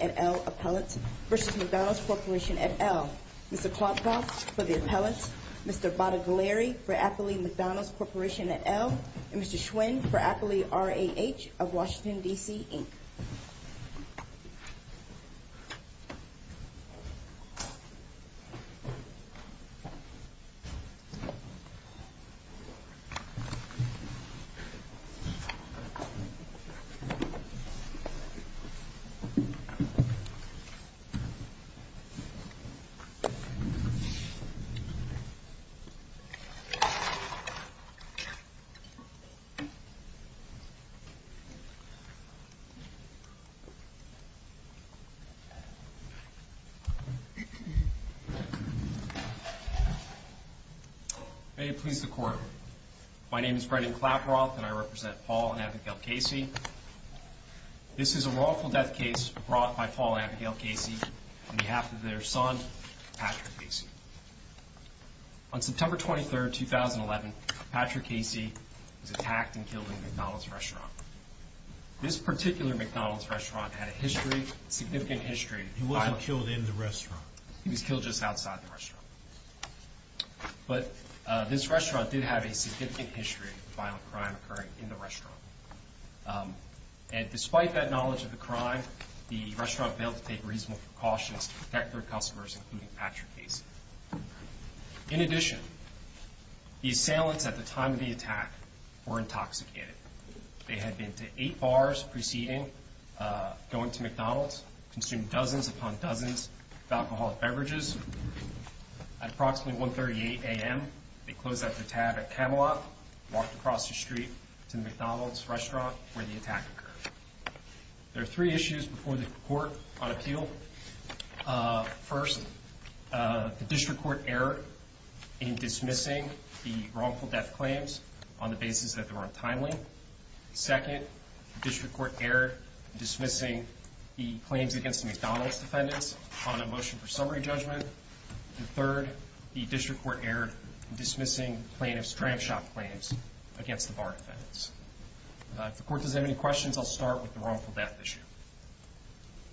et al. Appellate v. McDonald's Corporation et al. Mr. Plotka for the Appellate, Mr. Bottiglieri for Appellate McDonald's Corporation et al. and Mr. Schwinn for Appellate RAH of Washington, D.C. Inc. May it please the Court, my name is Brendan Claproth and I represent Paul and Abigail Casey. This is a lawful death case brought by Paul and Abigail Casey on behalf of their son, Patrick Casey. On September 23, 2011, Patrick Casey was attacked and killed in a McDonald's restaurant. This particular McDonald's restaurant had a history, significant history. He wasn't killed in the restaurant. He was killed just outside the restaurant. But this restaurant did have a significant history of violent crime occurring in the restaurant. And despite that knowledge of the crime, the restaurant failed to take reasonable precautions to protect their customers, including Patrick Casey. In addition, the assailants at the time of the attack were intoxicated. They had been to eight bars preceding going to McDonald's, consumed dozens upon dozens of alcoholic beverages. At approximately 1.38 a.m., they closed up the tab at Cadillac, walked across the street to McDonald's restaurant where the attack occurred. There are three issues before the Court on appeal. First, the District Court error in dismissing the wrongful death claims on the basis that they were untimely. Second, the District Court error in dismissing the claims against the McDonald's defendants on the motion for summary judgment. And third, the District Court error in dismissing plaintiff's trash shop claims against the bar defendants. If the Court has any questions, I'll start with the wrongful death issue.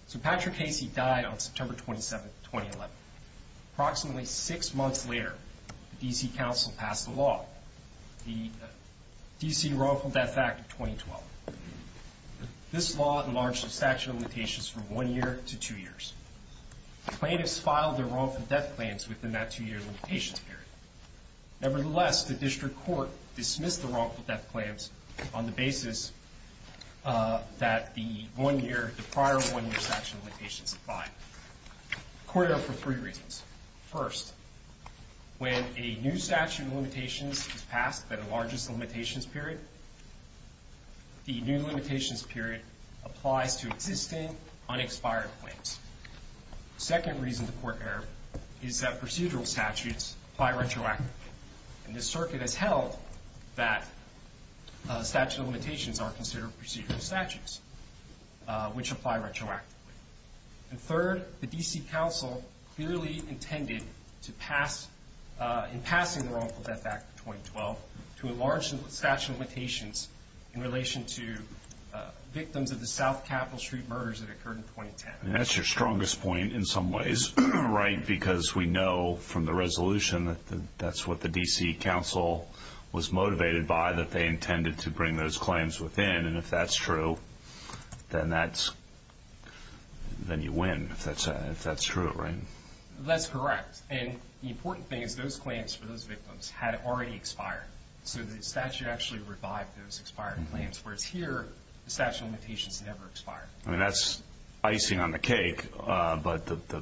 So Patrick Casey died on September 27, 2011. Approximately six months later, the D.C. Council passed a law. The D.C. Wrongful Death Act of 2012. This law enlarged the statute of limitations from one year to two years. Plaintiffs filed their wrongful death claims within that two-year limitation period. Nevertheless, the District Court dismissed the wrongful death claims on the basis that the one-year, the prior one-year statute of limitations applied. Court error for three reasons. First, when a new statute of limitations is passed by the largest limitations period, the new limitations period applies to existing, unexpired claims. Second reason for court error is that procedural statutes apply retroactively. And the circuit has held that statute of limitations are considered procedural statutes, which apply retroactively. And third, the D.C. Council clearly intended to pass, in passing the Wrongful Death Act of 2012, to enlarge the statute of limitations in relation to victims of the South Capitol Street murders that occurred in 2010. And that's your strongest point in some ways, right? Because we know from the resolution that that's what the D.C. Council was motivated by, that they intended to bring those claims within. And if that's true, then you win, if that's true, right? That's correct. And the important thing is those claims for those victims had already expired. So the statute actually revived those expired claims, whereas here, the statute of limitations never expired. I mean, that's icing on the cake. But the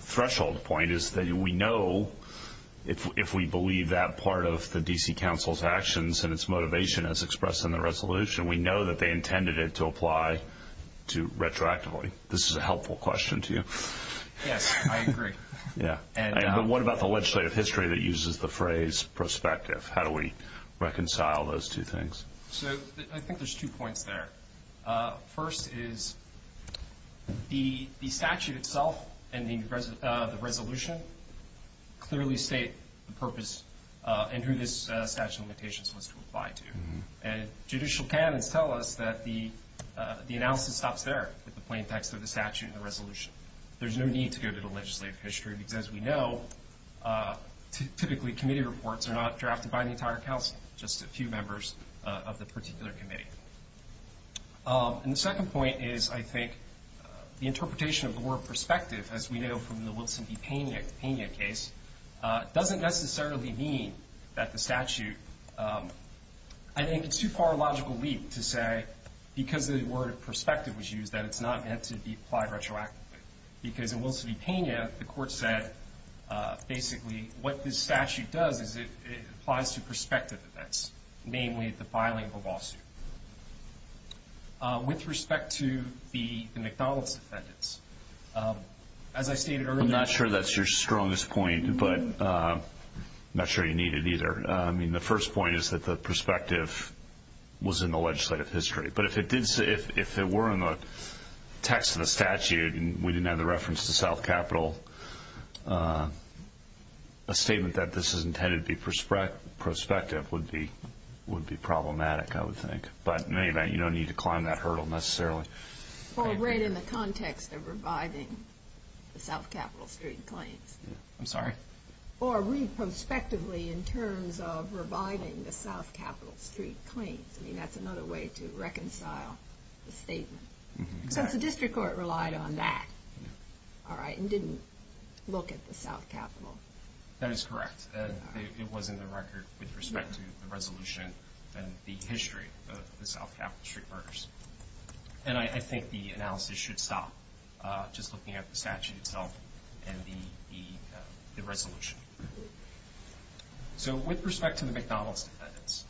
threshold point is that we know, if we believe that part of the D.C. Council's actions and its motivation as expressed in the resolution, we know that they intended it to apply retroactively. This is a helpful question to you. Yes, I agree. Yeah. But what about the legislative history that uses the phrase prospective? How do we reconcile those two things? So I think there's two points there. First is the statute itself and the resolution clearly state the purpose and who this statute of limitations was to apply to. And judicial panelists tell us that the analysis is not fair in the plain text of the statute and the resolution. There's no need to go to the legislative history because we know typically committee reports are not drafted by the entire council, just a few members of the particular committee. And the second point is, I think, the interpretation of the word prospective, as we know from the Wilson v. Pena case, doesn't necessarily mean that the statute – I think it's too far a logical leap to say because the word prospective was used that it's not meant to apply retroactively. Because in Wilson v. Pena, the court said basically what this statute does is it applies to prospective events, namely the filing of a lawsuit. With respect to the McDonnell's defendants, as I stated earlier – I'm not sure that's your strongest point, but I'm not sure you need it either. I mean, the first point is that the prospective was in the legislative history. But if it were in the text of the statute and we didn't have the reference to South Capitol, a statement that this is intended to be prospective would be problematic, I would think. But in any event, you don't need to climb that hurdle necessarily. Or read in the context of revising the South Capitol Street claims. I'm sorry? Or read prospectively in terms of revising the South Capitol Street claims. I mean, that's another way to reconcile the statement. Because the district court relied on that, all right, and didn't look at the South Capitol. That is correct. It was in the record with respect to the resolution and the history of the South Capitol Street murders. And I think the analysis should stop just looking at the statute itself and the resolution. So with respect to the McDonald's sentence,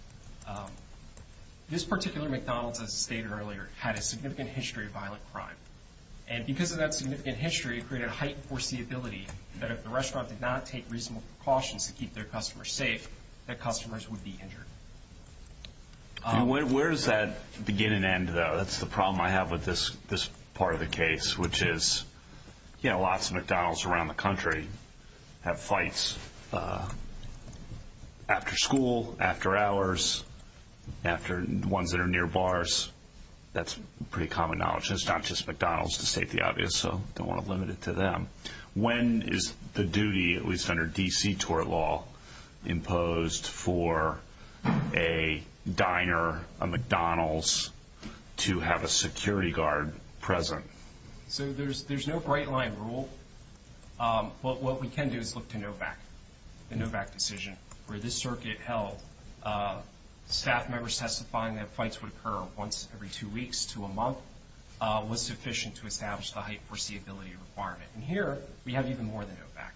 this particular McDonald's, as stated earlier, had a significant history of violent crime. And because of that significant history, it created a heightened foreseeability that if the restaurant did not take reasonable precautions to keep their customers safe, that customers would be injured. Where does that beginning end, though? That's the problem I have with this part of the case, which is, you know, lots of McDonald's around the country have fights after school, after hours, after ones that are near bars. That's pretty common knowledge. And it's not just McDonald's, to state the obvious. So I don't want to limit it to them. When is the duty, at least under D.C. tort law, imposed for a diner, a McDonald's, to have a security guard present? So there's no bright-line rule. What we can do is look to NOVAC, the NOVAC decision, where this circuit held staff members testifying that fights would occur once every two weeks to a month was sufficient to establish the heightened foreseeability requirement. And here, we have even more than NOVAC.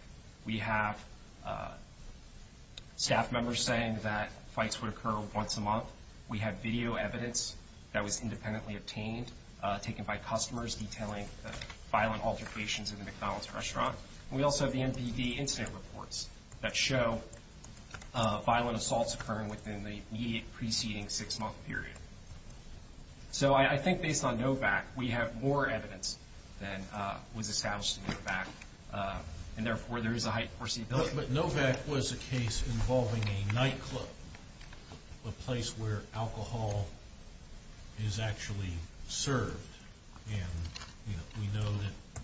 We have staff members saying that fights would occur once a month. We have video evidence that was independently obtained, taken by customers, detailing violent altercations in the McDonald's restaurant. We also have NPD incident reports that show violent assaults occurring within the preceding six-month period. So I think based on NOVAC, we have more evidence than was established in NOVAC, and therefore there is a heightened foreseeability requirement. But NOVAC was a case involving a nightclub, a place where alcohol is actually served. And we know that,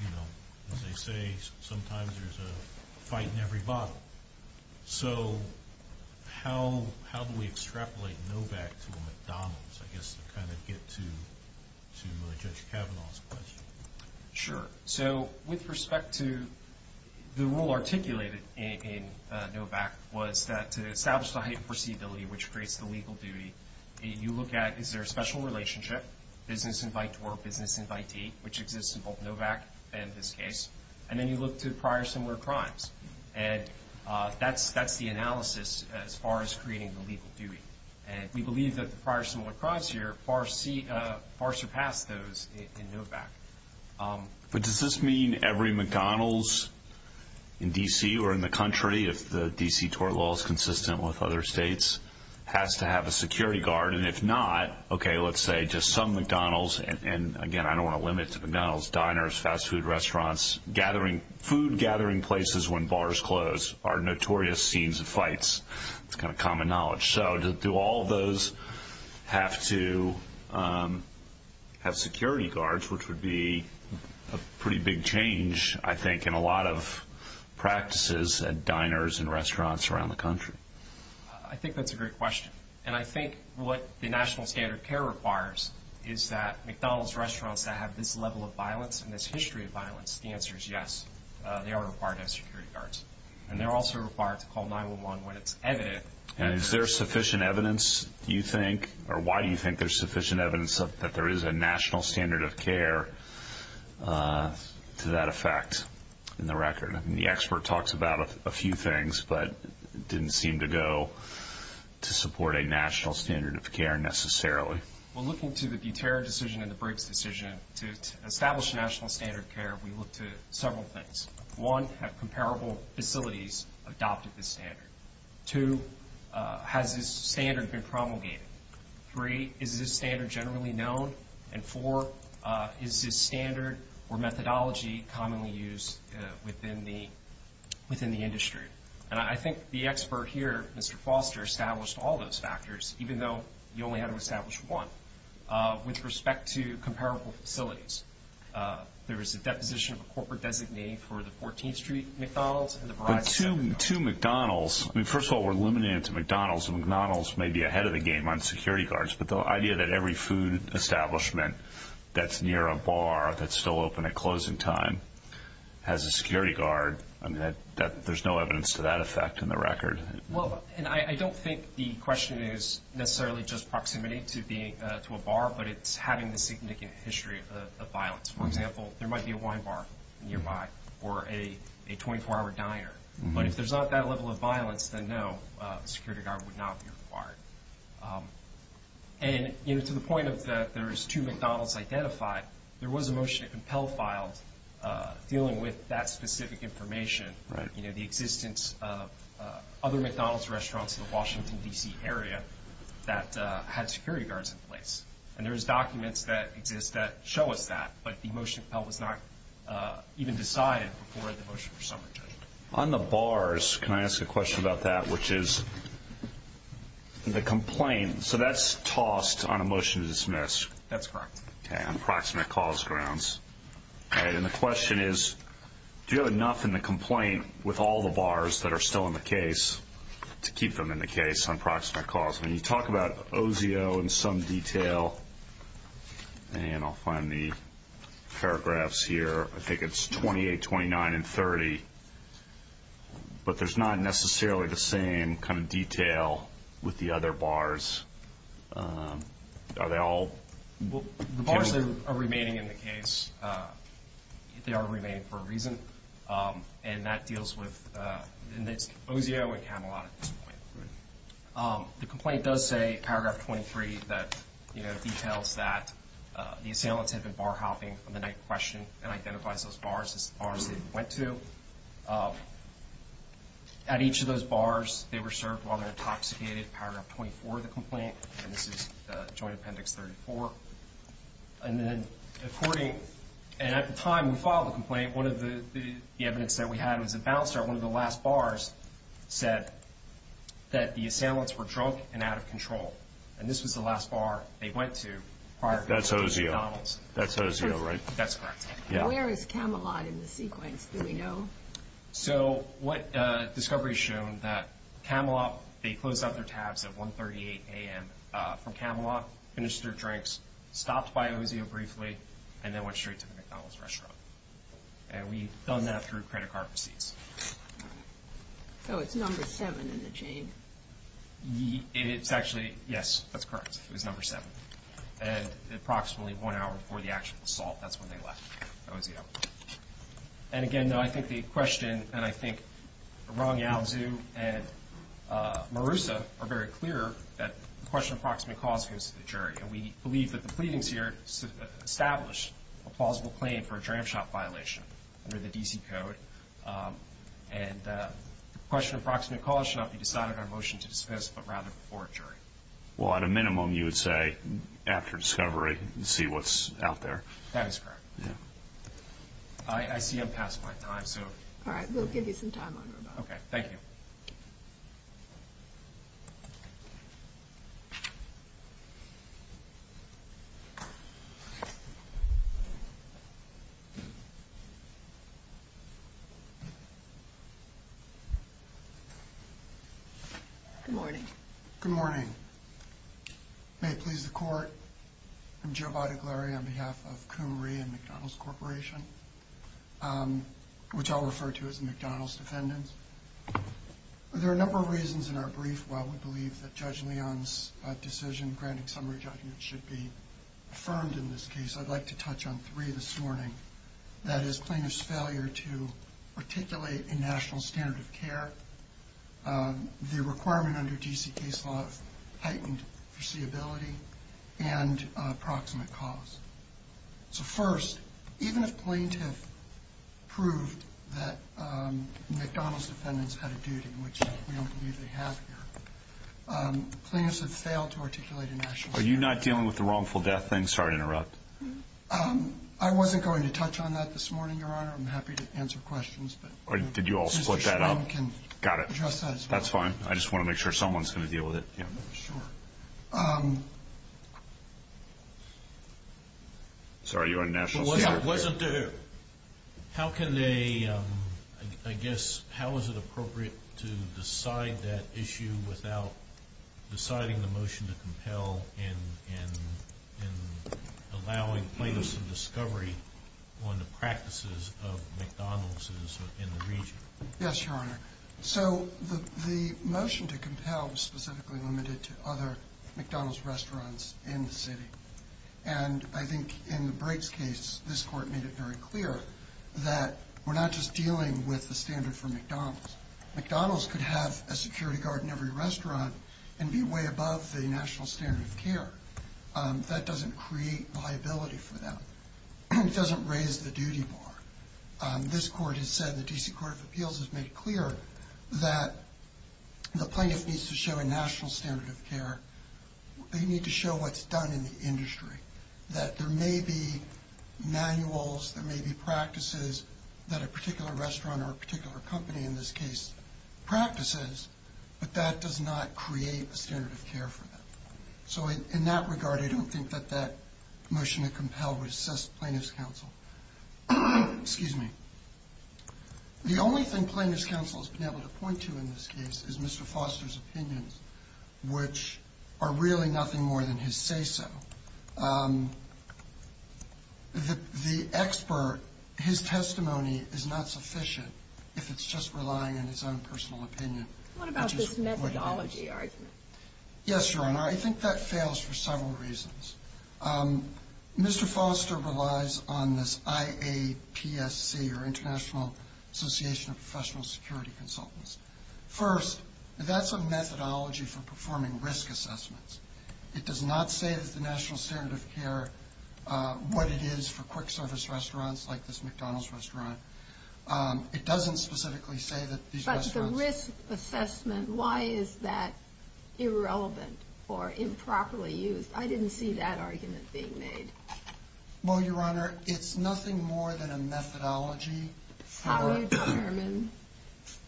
you know, as they say, sometimes there's a fight in every bottle. So how do we extrapolate NOVAC to McDonald's, I guess, to kind of get to Judge Kavanaugh's question? Sure. So with respect to the rule articulated in NOVAC was that to establish the heightened foreseeability, which creates the legal duty, you look at is there a special relationship, business invite to work, business invite to eat, which exists in both NOVAC and this case. And then you look to prior similar crimes. And that's the analysis as far as creating the legal duty. And we believe that the prior similar crimes here far surpassed those in NOVAC. But does this mean every McDonald's in D.C. or in the country, if the D.C. tort law is consistent with other states, has to have a security guard? And if not, okay, let's say just some McDonald's. And, again, I don't want to limit to McDonald's diners, fast food restaurants, common knowledge. So do all those have to have security guards, which would be a pretty big change, I think, in a lot of practices at diners and restaurants around the country? I think that's a great question. And I think what the national standard of care requires is that McDonald's restaurants that have this level of violence and this history of violence, the answer is yes, they are required to have security guards. And they're also required to call 911 when it's evident. And is there sufficient evidence, you think, or why do you think there's sufficient evidence that there is a national standard of care to that effect in the record? And the expert talks about a few things, but didn't seem to go to support a national standard of care necessarily. Well, looking to the Duterte decision and the Briggs decision to establish national standard of care, we looked at several things. One, have comparable facilities adopted this standard? Two, has this standard been promulgated? Three, is this standard generally known? And four, is this standard or methodology commonly used within the industry? And I think the expert here, Mr. Foster, established all those factors, even though you only had to establish one, with respect to comparable facilities. There is a deposition of a corporate designate for the 14th Street McDonald's. The two McDonald's, I mean, first of all, we're limited to McDonald's. McDonald's may be ahead of the game on security guards, but the idea that every food establishment that's near a bar that's still open at closing time has a security guard, I mean, there's no evidence to that effect in the record. Well, and I don't think the question is necessarily just proximity to a bar, but it's having a significant history of violence. For example, there might be a wine bar nearby or a 24-hour diner, but if there's not that level of violence, then no, a security guard would not be required. And to the point that there's two McDonald's identified, there was a motion to compel a file dealing with that specific information, you know, the existence of other McDonald's restaurants in the Washington, D.C. area that had security guards in place. And there's documents that show us that, but the motion was not even decided before the motion was submitted. On the bars, can I ask a question about that, which is the complaint, so that's tossed on a motion to dismiss. That's correct. Okay, on proximate cause grounds. All right, and the question is, do you have enough in the complaint with all the bars that are still in the case to keep them in the case on proximate cause? And you talk about OZO in some detail, and I'll find the paragraphs here. I think it's 28, 29, and 30, but there's not necessarily the same kind of detail with the other bars. Are they all? Well, the bars are remaining in the case. They are remaining for a reason, and that deals with OZO and Camelot at this point. The complaint does say, paragraph 23, that, you know, details that the assailant had been bar hopping from the night of questioning and identifies those bars as the bars they went to. At each of those bars, they were served while they were intoxicated, paragraph 24 of the complaint, and this is Joint Appendix 34. And then, according, and at the time we filed the complaint, one of the evidence that we had was the balance chart, one of the last bars, said that the assailants were drunk and out of control. And this was the last bar they went to prior. That's OZO. That's OZO, right? That's correct. Where is Camelot in the sequence? Do we know? So, what discovery has shown that Camelot, they closed off their tabs at 138 a.m. for Camelot, finished their drinks, stopped by OZO briefly, and then went straight to the McDonald's restaurant. And we've done that through credit card receipts. So it's number seven in the chain. It's actually, yes, that's correct. It's number seven. And approximately one hour before the actual assault, that's when they left OZO. And, again, no, I think the question, and I think Rong Yao and Marissa are very clear, that the question of proximate cause goes to the jury. And we believe that the pleadings here establish a plausible claim for a tram shop violation under the D.C. Code. And the question of proximate cause should not be decided on a motion to discuss, but rather before a jury. Well, at a minimum, you would say, after discovery, see what's out there. That is correct. I see I'm past my time, so. All right. We'll give you some time on that. Okay. Thank you. Good morning. Good morning. May it please the court. I'm Joe Bottiglieri on behalf of Kumri and McDonald's Corporation, which I'll refer to as McDonald's Defendants. There are a number of reasons in our brief why we believe that Judge Leon's decision granting summary judgment should be affirmed in this case. I'd like to touch on three this morning. That is plaintiff's failure to articulate a national standard of care. The requirement under GCK's law of heightened foreseeability and proximate cause. So, first, even if plaintiff proved that McDonald's Defendants had a duty, which I don't believe they have here, plaintiffs have failed to articulate a national standard of care. Are you not dealing with the wrongful death thing? Sorry to interrupt. I wasn't going to touch on that this morning, Your Honor. I'm happy to answer questions. Did you all split that up? Got it. That's fine. I just want to make sure someone's going to deal with it. Yeah. Sorry, you're on national standard of care. How can they, I guess, how is it appropriate to decide that issue without deciding the motion to compel and allowing plaintiffs some discovery on the practices of McDonald's in the region? Yes, Your Honor. So, the motion to compel was specifically limited to other McDonald's restaurants in the city. And I think in the Briggs case, this court made it very clear that we're not just dealing with the standard for McDonald's. McDonald's could have a security guard in every restaurant and be way above the national standard of care. That doesn't create liability for them. It doesn't raise the duty bar. This court has said, the D.C. Court of Appeals has made clear that the plaintiff needs to show a national standard of care. They need to show what's done in the industry. That there may be manuals, there may be practices that a particular restaurant or a particular company, in this case, practices, but that does not create a standard of care for them. So, in that regard, I don't think that that motion to compel would assess plaintiff's counsel. Excuse me. The only thing plaintiff's counsel has been able to point to in this case is Mr. Foster's opinions, which are really nothing more than his say-so. The expert, his testimony is not sufficient if it's just relying on his own personal opinion. What about his methodology argument? Yes, Your Honor. I think that fails for several reasons. Mr. Foster relies on this IAPSC, or International Association of Professional Security Consultants. First, that's a methodology for performing risk assessments. It does not say that the national standard of care, what it is for quick service restaurants like this McDonald's restaurant. It doesn't specifically say that these restaurants... If it's a risk assessment, why is that irrelevant or improperly used? I didn't see that argument being made. Well, Your Honor, it's nothing more than a methodology... How is it determined?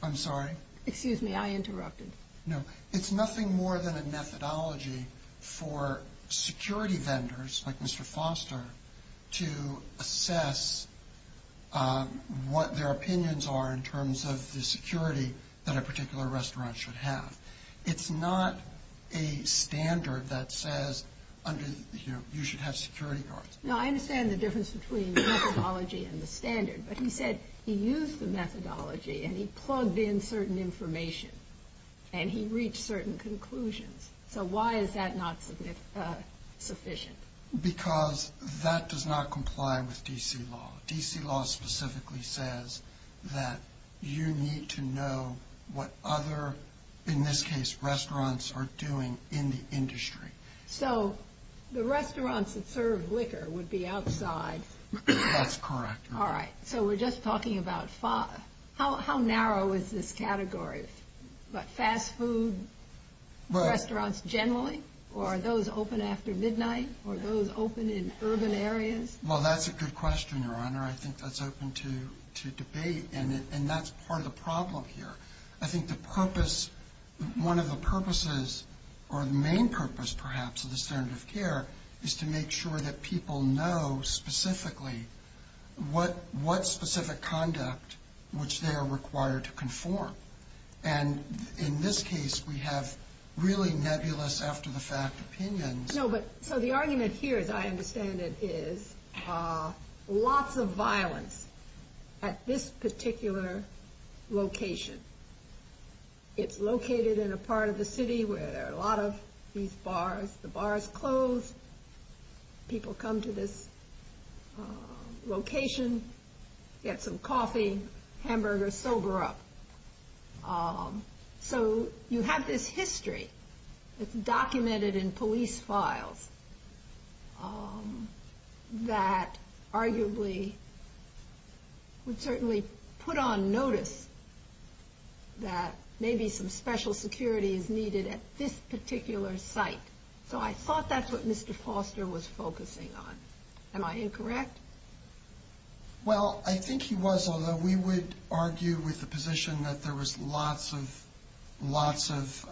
I'm sorry? Excuse me, I interrupted. No, it's nothing more than a methodology for security vendors like Mr. Foster to assess what their opinions are in terms of the security that a particular restaurant should have. It's not a standard that says you should have security guards. No, I understand the difference between the methodology and the standard. But he said he used the methodology and he plugged in certain information and he reached certain conclusions. So why is that not sufficient? Because that does not comply with D.C. law. D.C. law specifically says that you need to know what other, in this case, restaurants are doing in the industry. So the restaurants that serve liquor would be outside. That's correct. All right. So we're just talking about... How narrow is this category? Fast food restaurants generally? Or those open after midnight? Or those open in urban areas? Well, that's a good question, Your Honor. I think that's open to debate and that's part of the problem here. I think the purpose, one of the purposes or the main purpose, perhaps, of the standard of care is to make sure that people know specifically what specific conduct which they are required to conform. And in this case, we have really nebulous after the fact opinions. So the argument here, as I understand it, is lots of violence at this particular location. It's located in a part of the city where there are a lot of these bars. The bar is closed. People come to this location, get some coffee, hamburger, sober up. So you have this history. It's documented in police files that arguably would certainly put on notice that maybe some special security is needed at this particular site. So I thought that's what Mr. Foster was focusing on. Am I incorrect? Well, I think he was, although we would argue with the position that there was lots of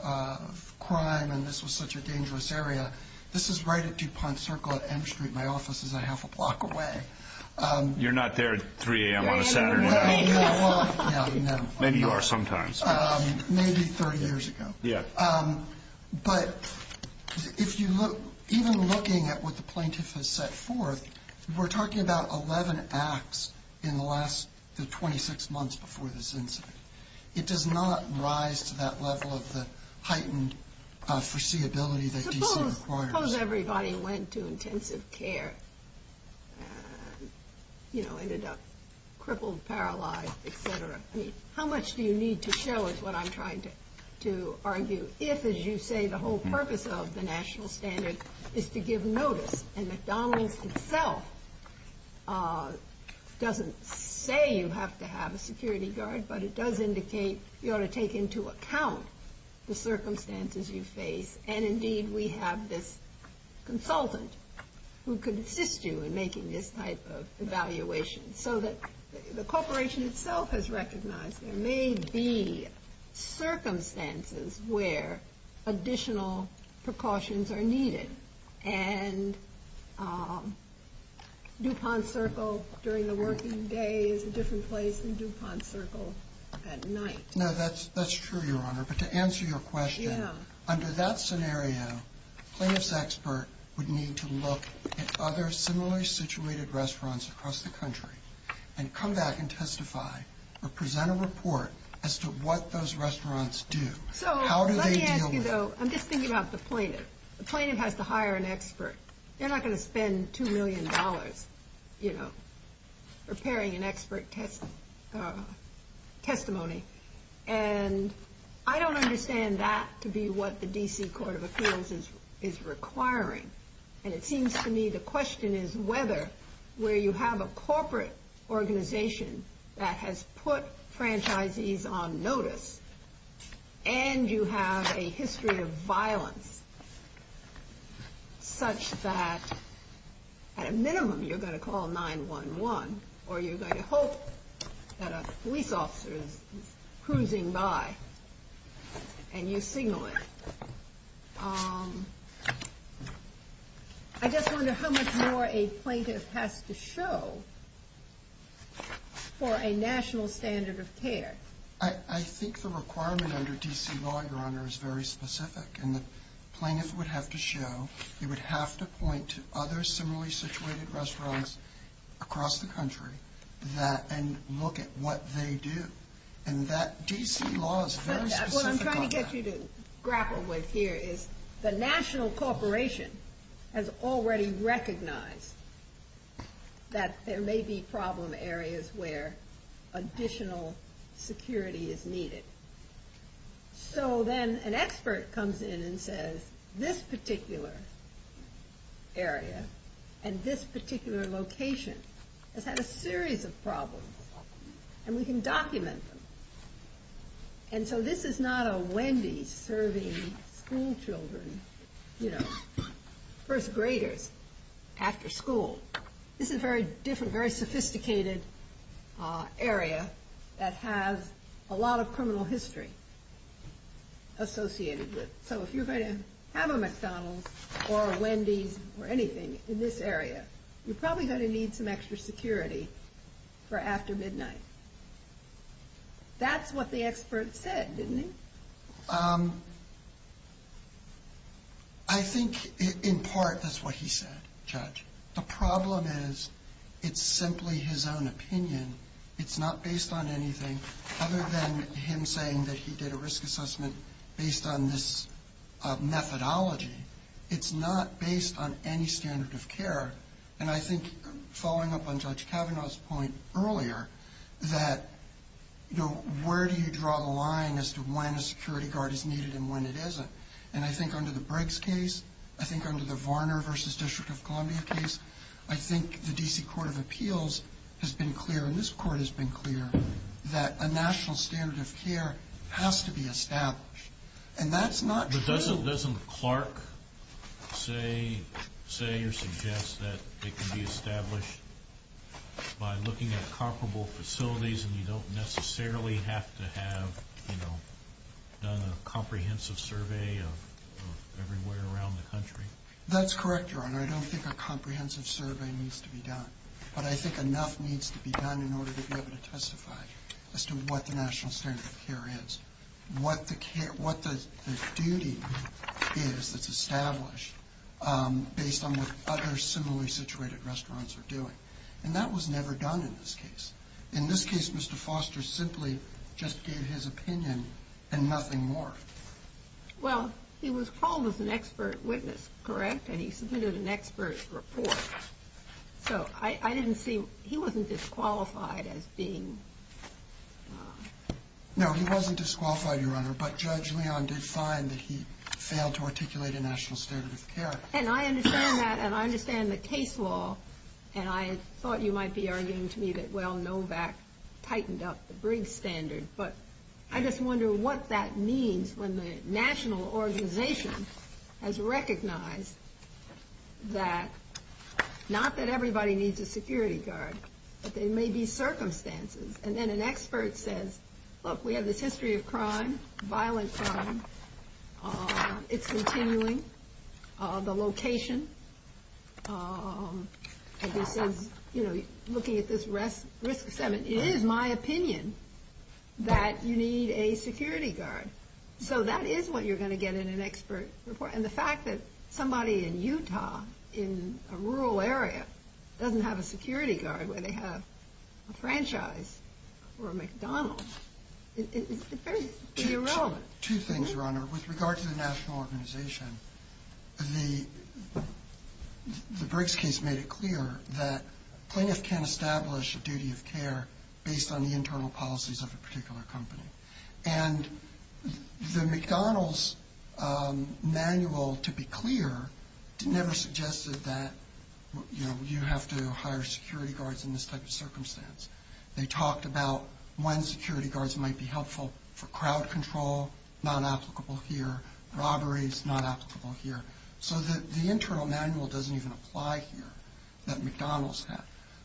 crime and this was such a dangerous area. This is right at DuPont Circle at M Street. My office is a half a block away. You're not there at 3 a.m. on a Saturday night. Maybe you are sometimes. Maybe 30 years ago. But even looking at what the plaintiff has set forth, we're talking about 11 acts in the last 26 months before this incident. It does not rise to that level of the heightened foreseeability that DC requires. Suppose everybody went to intensive care and, you know, ended up crippled, paralyzed, et cetera. How much do you need to show is what I'm trying to argue. If, as you say, the whole purpose of the national standard is to give notice. And McDonald's itself doesn't say you have to have a security guard, but it does indicate you ought to take into account the circumstances you face. And, indeed, we have this consultant who could assist you in making this type of evaluation. So that the corporation itself has recognized there may be circumstances where additional precautions are needed. And DuPont Circle during the working day is a different place than DuPont Circle at night. No, that's true, Your Honor. But to answer your question, under that scenario, plaintiff's expert would need to look at other similarly situated restaurants across the country. And come back and testify or present a report as to what those restaurants do. How do they deal with it? I'm just thinking about the plaintiff. The plaintiff has to hire an expert. They're not going to spend $2 million, you know, preparing an expert testimony. And I don't understand that to be what the D.C. Court of Appeals is requiring. And it seems to me the question is whether, where you have a corporate organization that has put franchisees on notice, and you have a history of violence such that, at a minimum, you're going to call 911. Or you're going to hope that a police officer is cruising by and you signal it. I just wonder how much more a plaintiff has to show for a national standard of care. I think the requirement under D.C. law, Your Honor, is very specific. And the plaintiff would have to show, they would have to point to other similarly situated restaurants across the country and look at what they do. And that D.C. law is very specific about that. What I'm trying to get you to grapple with here is the national corporation has already recognized that there may be problem areas where additional security is needed. So then an expert comes in and says this particular area and this particular location has had a series of problems. And we can document them. And so this is not a Wendy's serving school children, you know, first graders at the school. This is a very different, very sophisticated area that has a lot of criminal history associated with it. So if you're going to have a McDonald's or a Wendy's or anything in this area, you're probably going to need some extra security for after midnight. That's what the expert said, didn't he? I think in part that's what he said, Judge. The problem is it's simply his own opinion. It's not based on anything other than him saying that he did a risk assessment based on this methodology. It's not based on any standard of care. And I think following up on Judge Kavanaugh's point earlier that, you know, where do you draw the line as to when a security guard is needed and when it isn't? And I think under the Briggs case, I think under the Varner versus District of Columbia case, I think the D.C. Court of Appeals has been clear and this court has been clear that a national standard of care has to be established. And that's not true. Doesn't Clark say or suggest that it can be established by looking at comparable facilities and you don't necessarily have to have, you know, done a comprehensive survey of everywhere around the country? That's correct, Your Honor. I don't think a comprehensive survey needs to be done. But I think enough needs to be done in order to be able to testify as to what the national standard of care is, what the duty is that's established based on what other similarly situated restaurants are doing. And that was never done in this case. In this case, Mr. Foster simply just gave his opinion and nothing more. Well, he was called as an expert witness, correct? And he submitted an expert report. So I didn't see, he wasn't disqualified as being... No, he wasn't disqualified, Your Honor, but Judge Leon did find that he failed to articulate a national standard of care. And I understand that and I understand the case law and I thought you might be arguing to me that, well, Novak tightened up the Briggs standard. But I just wonder what that means when the national organization has recognized that, not that everybody needs a security guard, but there may be circumstances. And then an expert says, look, we have this history of crime, violent crime. It's continuing. The location. And he says, you know, looking at this risk assessment, it is my opinion that you need a security guard. So that is what you're going to get in an expert report. And the fact that somebody in Utah in a rural area doesn't have a security guard when they have a franchise or a McDonald's, it's very irrelevant. But two things, Your Honor. With regard to the national organization, the Briggs case made it clear that plaintiffs can establish a duty of care based on the internal policies of a particular company. And the McDonald's manual, to be clear, never suggested that, you know, you have to hire security guards in this type of circumstance. They talked about when security guards might be helpful for crowd control, not applicable here. Robberies, not applicable here. So the internal manual doesn't even apply here, that McDonald's has.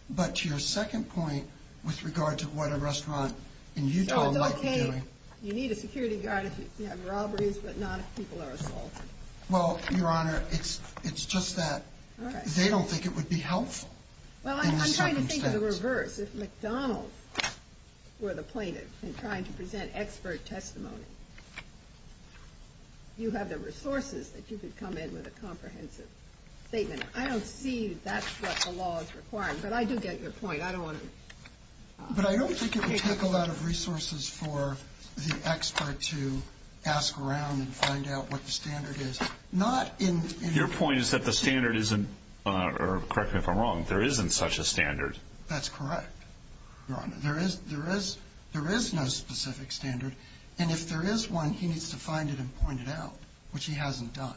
But your second point with regard to what a restaurant in Utah might be doing. You need a security guard if you have robberies, but not if people are involved. Well, Your Honor, it's just that they don't think it would be helpful. Well, I'm trying to think of the reverse. If McDonald's were the plaintiff and trying to present expert testimony, you have the resources that you could come in with a comprehensive statement. I don't see that's what the law is requiring. But I do get your point. I don't want to. But I don't think it would take a lot of resources for the expert to ask around and find out what the standard is. Your point is that the standard isn't, or correct me if I'm wrong, there isn't such a standard. That's correct, Your Honor. There is no specific standard. And if there is one, he needs to find it and point it out, which he hasn't done.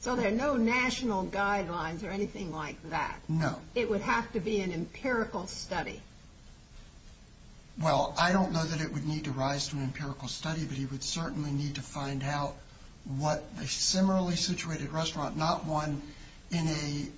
So there are no national guidelines or anything like that. No. It would have to be an empirical study. Well, I don't know that it would need to rise to an empirical study, but he would certainly need to find out what a similarly situated restaurant, not one in a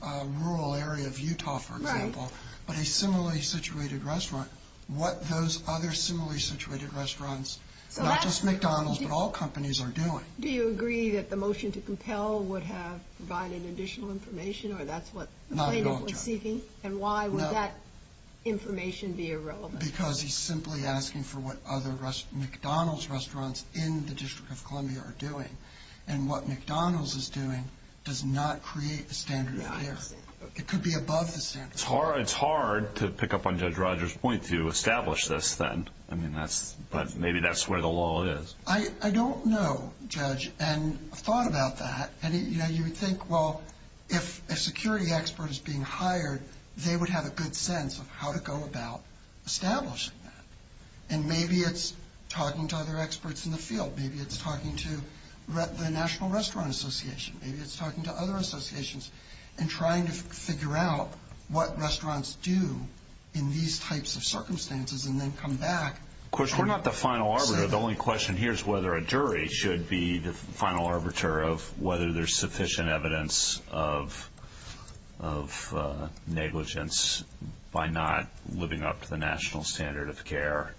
rural area of Utah, for example, but a similarly situated restaurant, what those other similarly situated restaurants, not just McDonald's, but all companies are doing. Do you agree that the motion to compel would have provided additional information or that's what the plaintiff is seeking? Not at all, Your Honor. And why would that information be irrelevant? Because he's simply asking for what other McDonald's restaurants in the District of Columbia are doing. And what McDonald's is doing does not create a standard here. It could be above the standard. It's hard to pick up on Judge Rogers' point to establish this then, but maybe that's where the law is. I don't know, Judge, and I've thought about that. And, you know, you would think, well, if a security expert is being hired, they would have a good sense of how to go about establishing that. And maybe it's talking to other experts in the field. Maybe it's talking to the National Restaurant Association. Maybe it's talking to other associations and trying to figure out what restaurants do in these types of circumstances and then come back. Of course, we're not the final arbiter. The only question here is whether a jury should be the final arbiter of whether there's sufficient evidence of negligence by not living up to the national standard of care.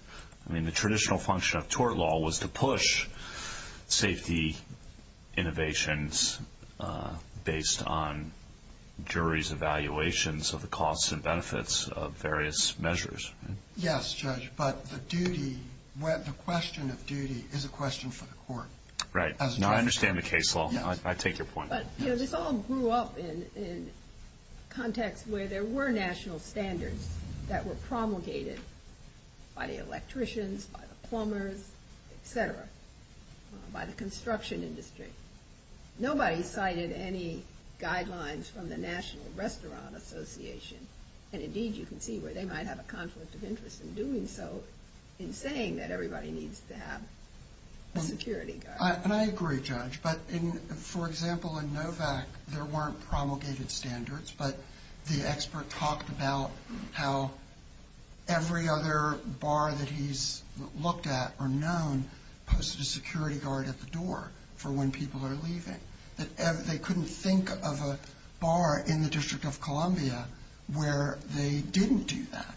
I mean, the traditional function of tort law was to push safety innovations based on juries' evaluations of the costs and benefits of various measures. Yes, Judge, but the question of duty is a question for the court. Right. I understand the case law now. I take your point. But this all grew up in context where there were national standards that were promulgated by the electricians, by the plumbers, et cetera, by the construction industry. Nobody cited any guidelines from the National Restaurant Association. And, indeed, you can see where they might have a conflict of interest in doing so in saying that everybody needs to have security guards. And I agree, Judge. But, for example, in Novak, there weren't promulgated standards, but the expert talked about how every other bar that he's looked at or known posted a security guard at the door for when people are leaving. They couldn't think of a bar in the District of Columbia where they didn't do that.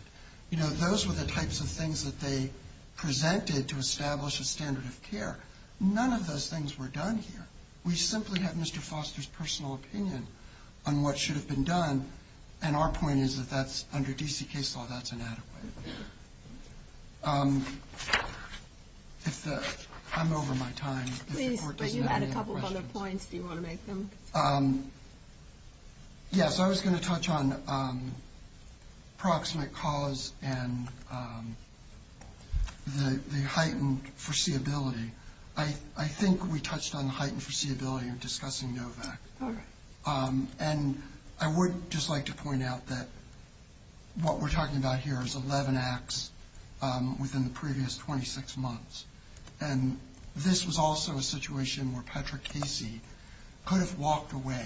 You know, those were the types of things that they presented to establish a standard of care. None of those things were done here. We simply had Mr. Foster's personal opinion on what should have been done, and our point is that under D.C. case law, that's inadequate. I'm over my time. But you had a couple of other points. Do you want to make them? Yes, I was going to touch on proximate cause and the heightened foreseeability. I think we touched on heightened foreseeability in discussing Novak. And I would just like to point out that what we're talking about here is 11 acts within the previous 26 months. And this was also a situation where Patrick Casey could have walked away.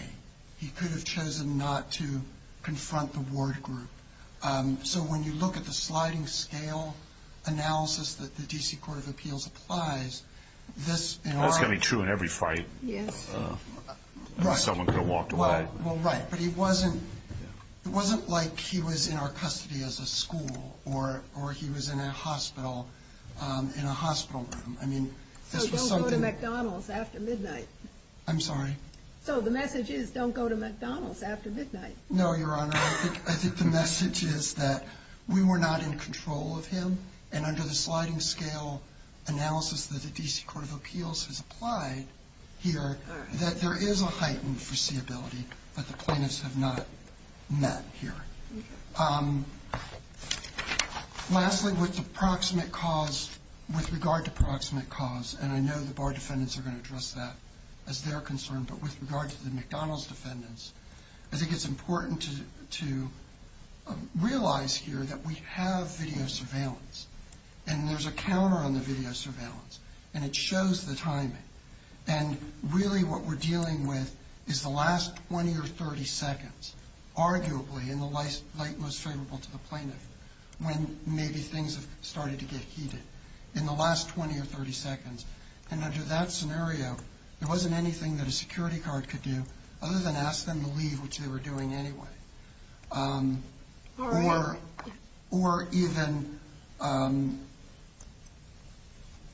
He could have chosen not to confront the ward group. So when you look at the sliding scale analysis that the D.C. Court of Appeals applies, this in our- That's going to be true in every fight. Someone could have walked away. Well, right. But it wasn't like he was in our custody as a school or he was in a hospital room. So don't go to McDonald's after midnight. I'm sorry? So the message is don't go to McDonald's after midnight. No, Your Honor. I think the message is that we were not in control of him, and under the sliding scale analysis that the D.C. Court of Appeals has applied here, that there is a heightened foreseeability that the plaintiffs have not met here. Lastly, with the proximate cause, with regard to proximate cause, and I know the bar defendants are going to address that as their concern, but with regard to the McDonald's defendants, I think it's important to realize here that we have video surveillance. And there's a counter on the video surveillance. And it shows the timing. And really what we're dealing with is the last 20 or 30 seconds, arguably in the light most favorable to the plaintiff, when maybe things have started to get heated, in the last 20 or 30 seconds. And under that scenario, there wasn't anything that a security guard could do other than ask them to leave, which they were doing anyway. Or even,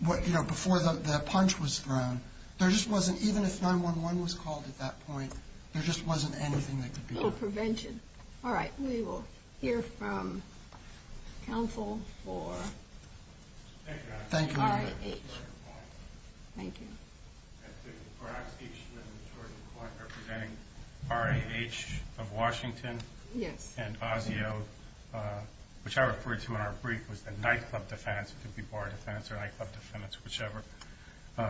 you know, before the punch was thrown, there just wasn't, even if 911 was called at that point, there just wasn't anything that could be done. So prevention. All right. We will hear from counsel for RAH. Thank you. I have a question. RAH of Washington and Osceo, which I referred to in our brief was the nightclub defendants, it could be bar defendants or nightclub defendants, whichever. The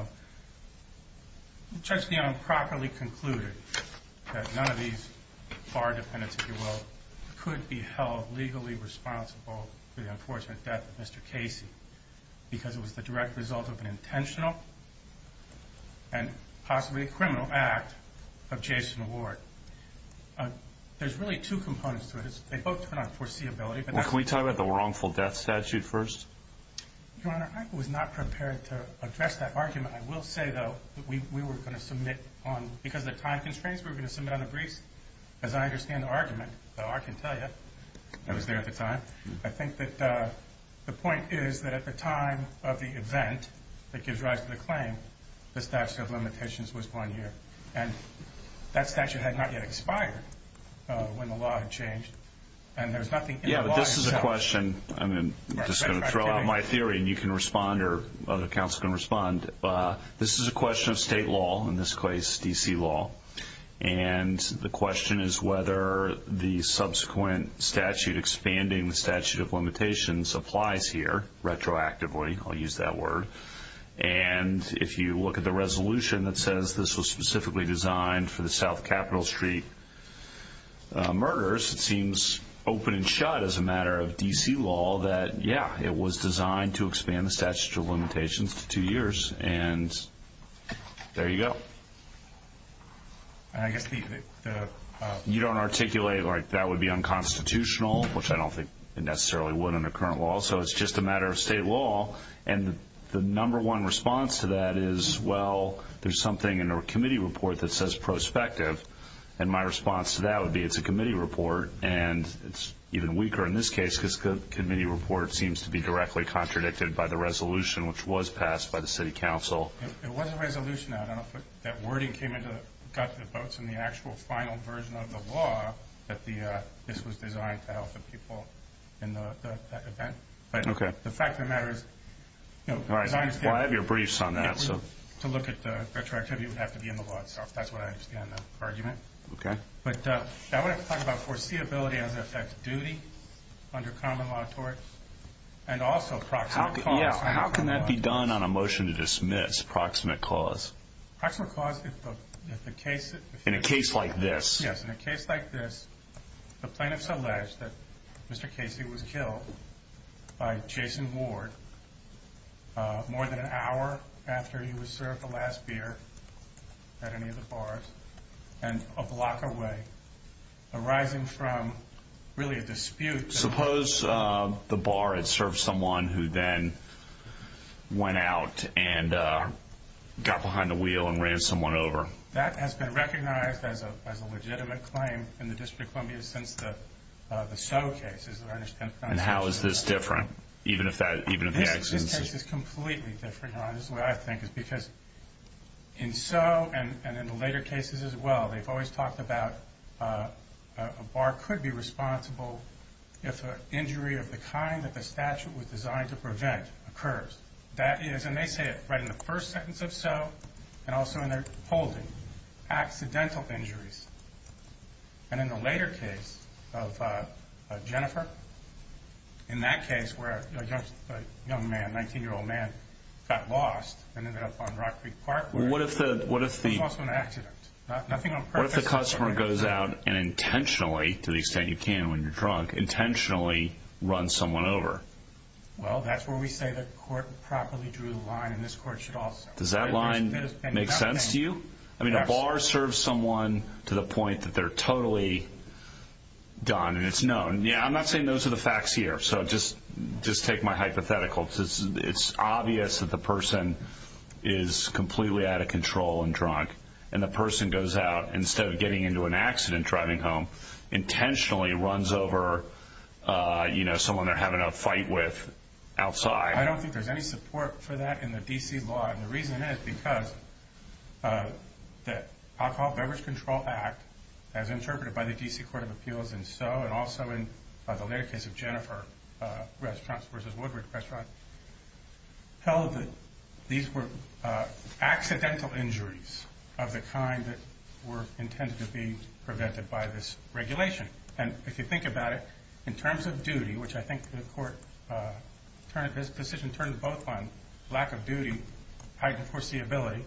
judge, you know, improperly concluded that none of these bar defendants, if you will, could be held legally responsible for the unfortunate death of Mr. Casey because it was the direct result of an intentional and possibly criminal act of Jason Ward. There's really two components to it. They both turn on foreseeability. Can we talk about the wrongful death statute first? Your Honor, I was not prepared to address that argument. I will say, though, that we were going to submit on, because of time constraints, we were going to submit on a brief. As I understand the argument, I can tell you it was there at the time. I think that the point is that at the time of the event that gives rise to the claim, the statute of limitations was one year. And that statute had not yet expired when the law had changed. Yeah, but this is a question. I'm just going to throw out my theory, and you can respond, or other counsel can respond. This is a question of state law, in this case, D.C. law. And the question is whether the subsequent statute, expanding the statute of limitations, applies here retroactively. I'll use that word. And if you look at the resolution that says this was specifically designed for the South Capitol Street murders, it seems open and shut as a matter of D.C. law that, yeah, it was designed to expand the statute of limitations to two years. And there you go. You don't articulate like that would be unconstitutional, which I don't think it necessarily would under current law. So it's just a matter of state law. And the number one response to that is, well, there's something in our committee report that says prospective. And my response to that would be it's a committee report, and it's even weaker in this case because the committee report seems to be directly contradicted by the resolution, which was passed by the city council. It wasn't a resolution. I don't know if that wording came into the guts of the folks in the actual final version of the law that this was designed to help the people in that event. Okay. The fact of the matter is, you know, Right. Well, I have your briefs on that, so. To look at the retroactivity would have to be in the law itself. That's what I understand the argument. Okay. But I want to talk about foreseeability and the effect of duty under common law How can that be done on a motion to dismiss? Proximate clause. In a case like this. Yes. In a case like this, defendants allege that Mr. Casey was killed by Jason Ward more than an hour after he was served the last beer at any of the bars and a block away, arising from really a dispute. Suppose the bar had served someone who then went out and got behind the wheel and ran someone over. That has been recognized as a legitimate claim in the District of Columbia since the Stowe case. And how is this different? Even if the accident is. This is a case that's completely different, where I think it's because in Stowe and in the later cases as well, they've always talked about a bar could be responsible if an injury of the kind that the statute was designed to prevent occurs. That is, and they say it right in the first sentence of Stowe, and also in their holding, accidental injuries. And in the later case of Jennifer, in that case where a young man, a 19-year-old man got lost and ended up on Rock Creek Park. What if the customer goes out and intentionally, to the extent you can when you're drunk, intentionally runs someone over? Well, that's where we say that the court properly drew the line and this court should also. Does that line make sense to you? I mean, a bar serves someone to the point that they're totally done and it's known. I'm not saying those are the facts here, so just take my hypothetical. It's obvious that the person is completely out of control and drunk, and the person goes out instead of getting into an accident driving home, intentionally runs over, you know, someone they're having a fight with outside. I don't think there's any support for that in the D.C. law, and the reason is because the Alcohol Beverage Control Act, as interpreted by the D.C. Court of Appeals in Stowe and also in the later case of Jennifer, restaurants versus Woodward restaurant, held that these were accidental injuries of the kind that were intended to be prevented by this regulation. And if you think about it, in terms of duty, which I think the court's decision turned both on lack of duty, and of course the ability,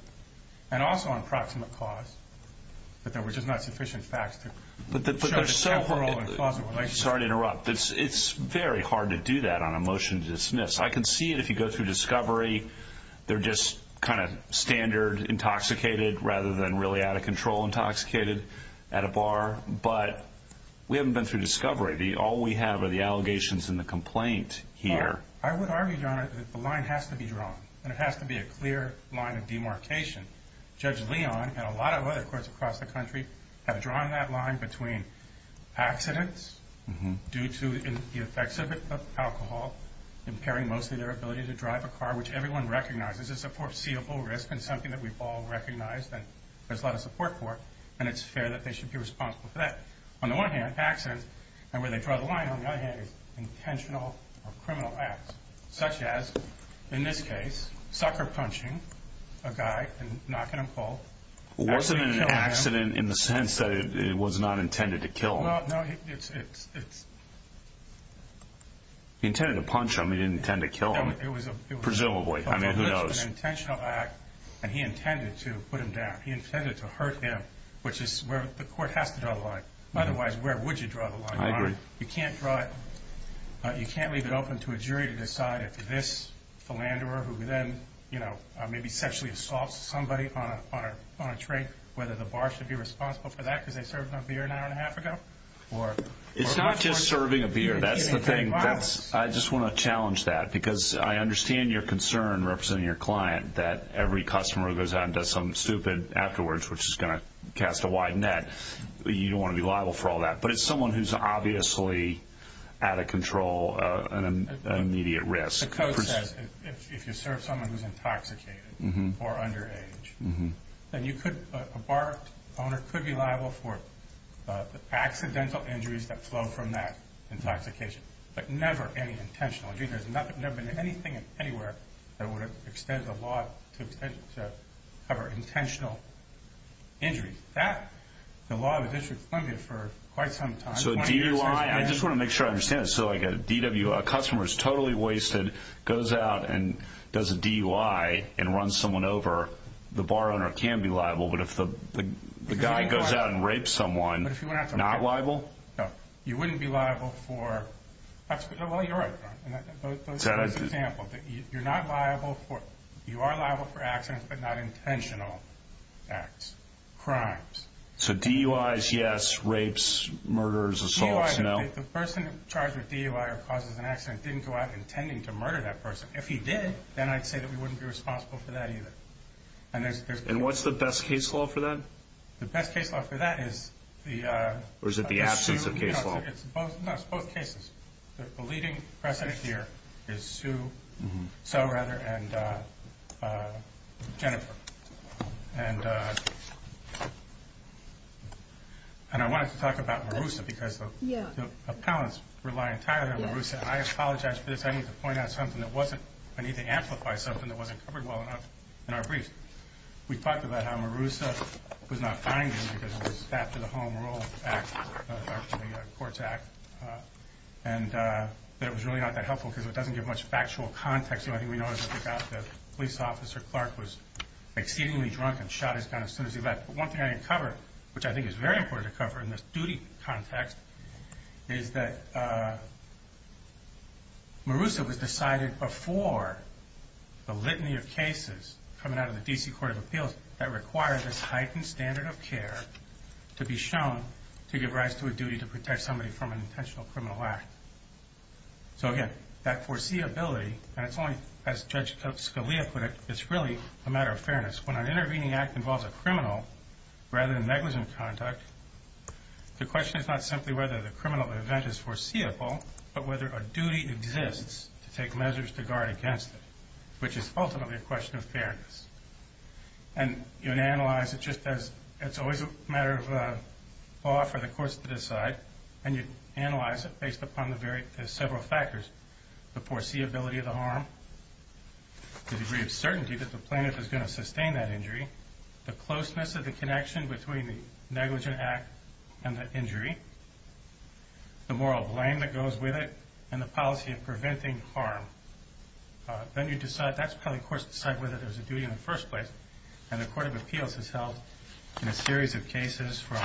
and also on proximate cause, which is not sufficient facts to judge temporal and causal relationship. Sorry to interrupt. It's very hard to do that on a motion to dismiss. I can see it if you go through discovery. They're just kind of standard intoxicated rather than really out of control intoxicated at a bar, but we haven't been through discovery. All we have are the allegations and the complaint here. Well, what I read on it is the line has to be drawn, and it has to be a clear line of demarcation. Judge Leon and a lot of other courts across the country have drawn that line between accidents due to the effects of alcohol impairing most of their ability to drive a car, which everyone recognizes is a foreseeable risk and something that we've all recognized that there's a lot of support for, and it's fair that they should be responsible for that. On the one hand, accidents, and where they draw the line, on the other hand, intentional or criminal acts, such as, in this case, sucker punching a guy and knocking him full. Wasn't it an accident in the sense that it was not intended to kill him? Well, no. He intended to punch him. He didn't intend to kill him, presumably. I mean, who knows? It was an intentional act, and he intended to put him down. He intended to hurt him, which is where the court has to draw the line. Otherwise, where would you draw the line? I agree. You can't leave it open to a jury to decide if this philanderer who then, you know, maybe sexually assaulted somebody on a train, whether the bar should be responsible for that because they served him a beer an hour and a half ago? It's not just serving a beer. That's the thing. I just want to challenge that because I understand your concern, representing your client, that every customer who goes out and does something stupid afterwards, which is going to cast a wide net, you don't want to be liable for all that. But it's someone who's obviously out of control and an immediate risk. The code says if you serve someone who's intoxicated or underage, then a bar owner could be liable for the accidental injuries that flow from that intoxication, but never any intentional. There's never been anything anywhere that would extend the law to cover intentional injuries. The law of the district funded for quite some time. So DUI, I just want to make sure I understand this. So like a customer is totally wasted, goes out and does a DUI and runs someone over, the bar owner can be liable, but if the guy goes out and rapes someone, not liable? No. You wouldn't be liable for, well, you're right. That's an example. You're not liable for, you are liable for accidents, but not intentional acts, crimes. So DUI is yes, rapes, murders, assaults, no? The person charged with DUI or causing an accident didn't go out intending to murder that person. If he did, then I'd say that we wouldn't be responsible for that either. And what's the best case law for that? The best case law for that is the... Or is it the absence of case law? No, it's both cases. The leading precedent here is Sue... Sue, rather, and Jennifer. And I wanted to talk about Marussa because the appellants rely entirely on Marussa. I apologize for this. I need to point out something that wasn't... I need to amplify something that wasn't covered well enough in our brief. We talked about how Marussa was not finding because it was after the Home Rule Act, after the Courts Act. And it was really not that helpful because it doesn't give much factual context. I think we know that the police officer, Clark, was exceedingly drunk and shot his gun as soon as he left. But one thing I didn't cover, which I think is very important to cover in this duty context, is that Marussa was decided before the litany of cases coming out of the D.C. Court of Appeals that requires a heightened standard of care to be shown to give rise to a duty to protect somebody from an intentional criminal act. So, again, that foreseeability, and it's only, as Judge Scalia put it, it's really a matter of fairness. When an intervening act involves a criminal, rather than negligent conduct, the question is not simply whether the criminal event is foreseeable, but whether a duty exists to take measures to guard against it, which is ultimately a question of fairness. And you can analyze it just as it's always a matter of law for the courts to decide, and you analyze it based upon several factors, the foreseeability of the harm, the degree of certainty that the plaintiff is going to sustain that injury, the closeness of the connection between the negligent act and the injury, the moral blame that goes with it, and the policy of preventing harm. Then you decide, that's probably, of course, to decide whether there's a duty in the first place, And the Court of Appeals has held, in a series of cases from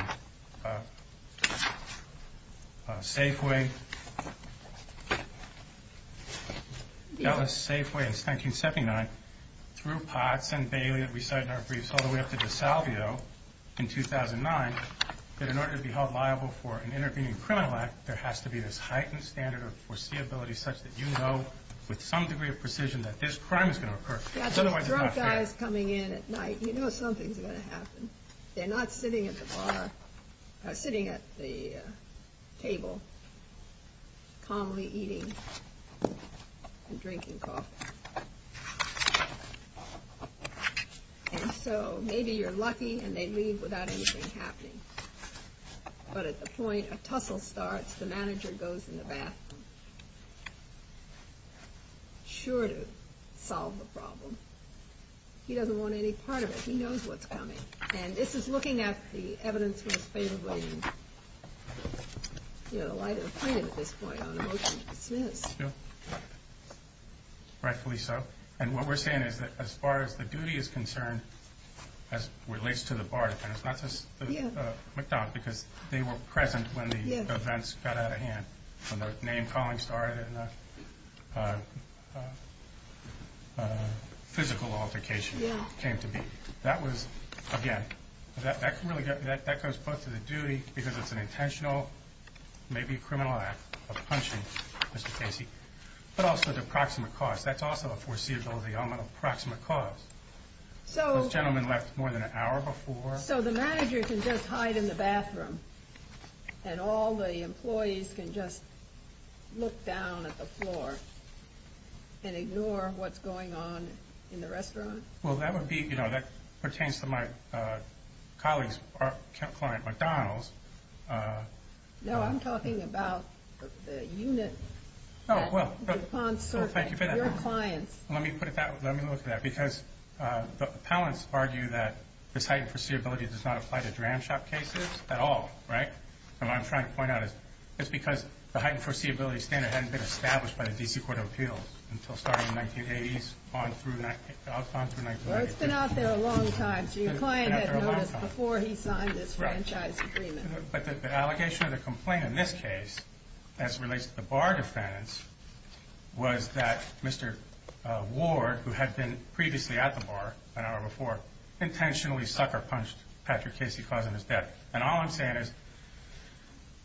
Safeway, that was Safeway in 1979, through Potts and Bailey, and we started in our briefs all the way up to DeSalvio in 2009, that in order to be held liable for an intervening criminal act, there has to be a heightened standard of foreseeability such that you know, with some degree of precision, that this crime is going to occur. You've got some drunk guys coming in at night, you know something's going to happen. They're not sitting at the bar, or sitting at the table, calmly eating and drinking coffee. And so, maybe you're lucky, and they leave without anything happening. But at the point a tussle starts, the manager goes in the bathroom. He's not sure to solve the problem. He doesn't want any part of it. He knows what's happening. And this is looking at the evidence from the State of Washington. You know, I don't see a big point on a motion like this. Rightfully so. And what we're saying is that as far as the duty is concerned, as relates to the bar, and it's not just the McDonald's, because they were present when the events got out of hand. When the name calling started, and the physical altercation came to be. That was, again, that goes both to the duty, because it's an intentional, maybe criminal act, of punching Mr. Fancy, but also the proximate cause. That's also a foreseeability on the proximate cause. The gentleman left more than an hour before. So the manager can just hide in the bathroom, and all the employees can just look down at the floor, and ignore what's going on in the restaurant? Well, that would be, you know, that pertains to my colleague's client, McDonald's. No, I'm talking about the unit that responds to your client. Let me put it that way. Let me look at that. Because the appellants argue that the heightened foreseeability does not apply to dram shop cases at all, right? And what I'm trying to point out is just because the heightened foreseeability standard hadn't been established by the D.C. Court of Appeals until starting in the 1980s, on through the 1990s. It's been out there a long time. So your client had noticed before he signed this franchise agreement. But the allegation or the complaint in this case, as it relates to the bar defendants, was that Mr. Ward, who had been previously at the bar, an hour before, intentionally sucker-punched Patrick Casey because of his death. And all I'm saying is,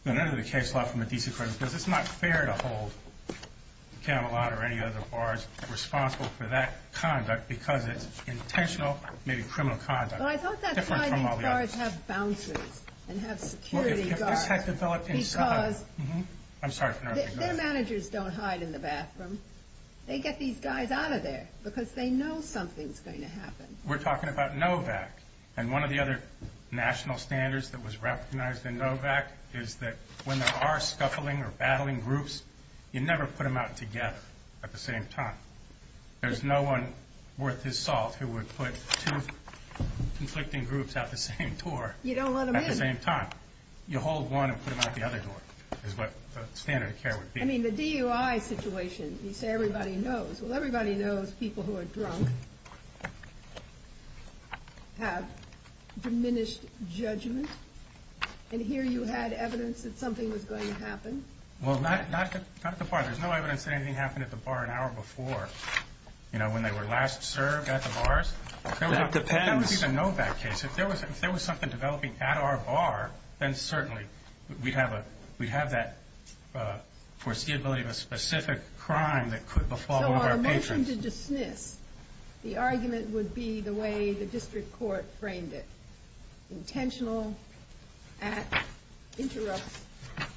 no matter the case law from the D.C. Court of Appeals, it's not fair to hold Camelot or any other bars responsible for that conduct, because it's intentional, maybe criminal conduct. Well, I thought that's why these bars have bouncers and have security guards. Because their managers don't hide in the bathroom. They get these guys out of there because they know something's going to happen. We're talking about NOVAC. And one of the other national standards that was recognized in NOVAC is that when there are scuffling or battling groups, you never put them out together at the same time. There's no one worth his salt who would put two conflicting groups out the same door at the same time. You don't let them in. You hold one and put them out the other door, is what the standard of care would be. I mean, the DUI situation, you say everybody knows. Well, everybody knows people who are drunk have diminished judgment. Well, that's not the point. There's no evidence that anything happened at the bar an hour before, you know, when they were last served at the bars. That depends. If there was a NOVAC case, if there was something developing at our bar, then certainly we'd have that foreseeability of a specific crime that could befall our patrons. Well, I mentioned to dismiss. The argument would be the way the district court framed it. Intentional acts interrupt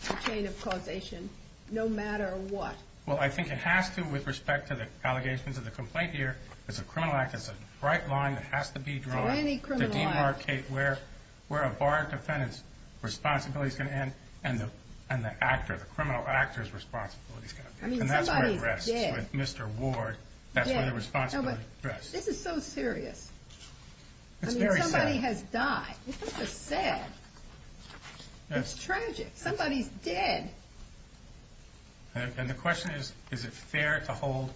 the chain of causation no matter what. Well, I think it has to with respect to the allegations of the complaint here, because a criminal act is a bright line that has to be drawn. For any criminal act. To demarcate where a bar defendant's responsibility is going to end and the criminal actor's responsibility is going to end. I mean, somebody's dead. And that's where it rests with Mr. Ward. That's where the responsibility rests. This is so serious. It's very sad. I mean, somebody has died. This is sad. It's tragic. Somebody's dead. And the question is, is it fair to hold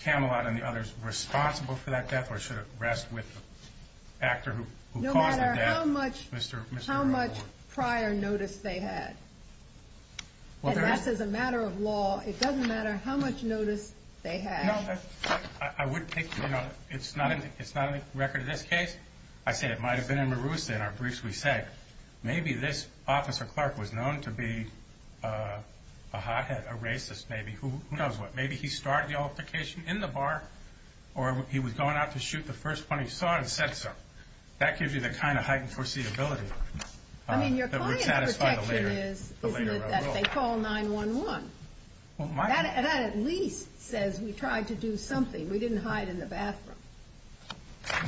Camelot and the others responsible for that death, or should it rest with the actor who caused the death, Mr. Ward? No matter how much prior notice they had. And that's as a matter of law. It doesn't matter how much notice they had. You know, I would think, you know, it's not a record of this case. I say it might have been in Maroos in our briefs we sent. Maybe this Officer Clark was known to be a hothead, a racist maybe. Who knows what. Maybe he started the altercation in the bar, or he was going out to shoot the first one he saw and said so. That gives you the kind of heightened foreseeability. I mean, your client's perception is that they call 911. That at least says we tried to do something. We didn't hide in the bathroom.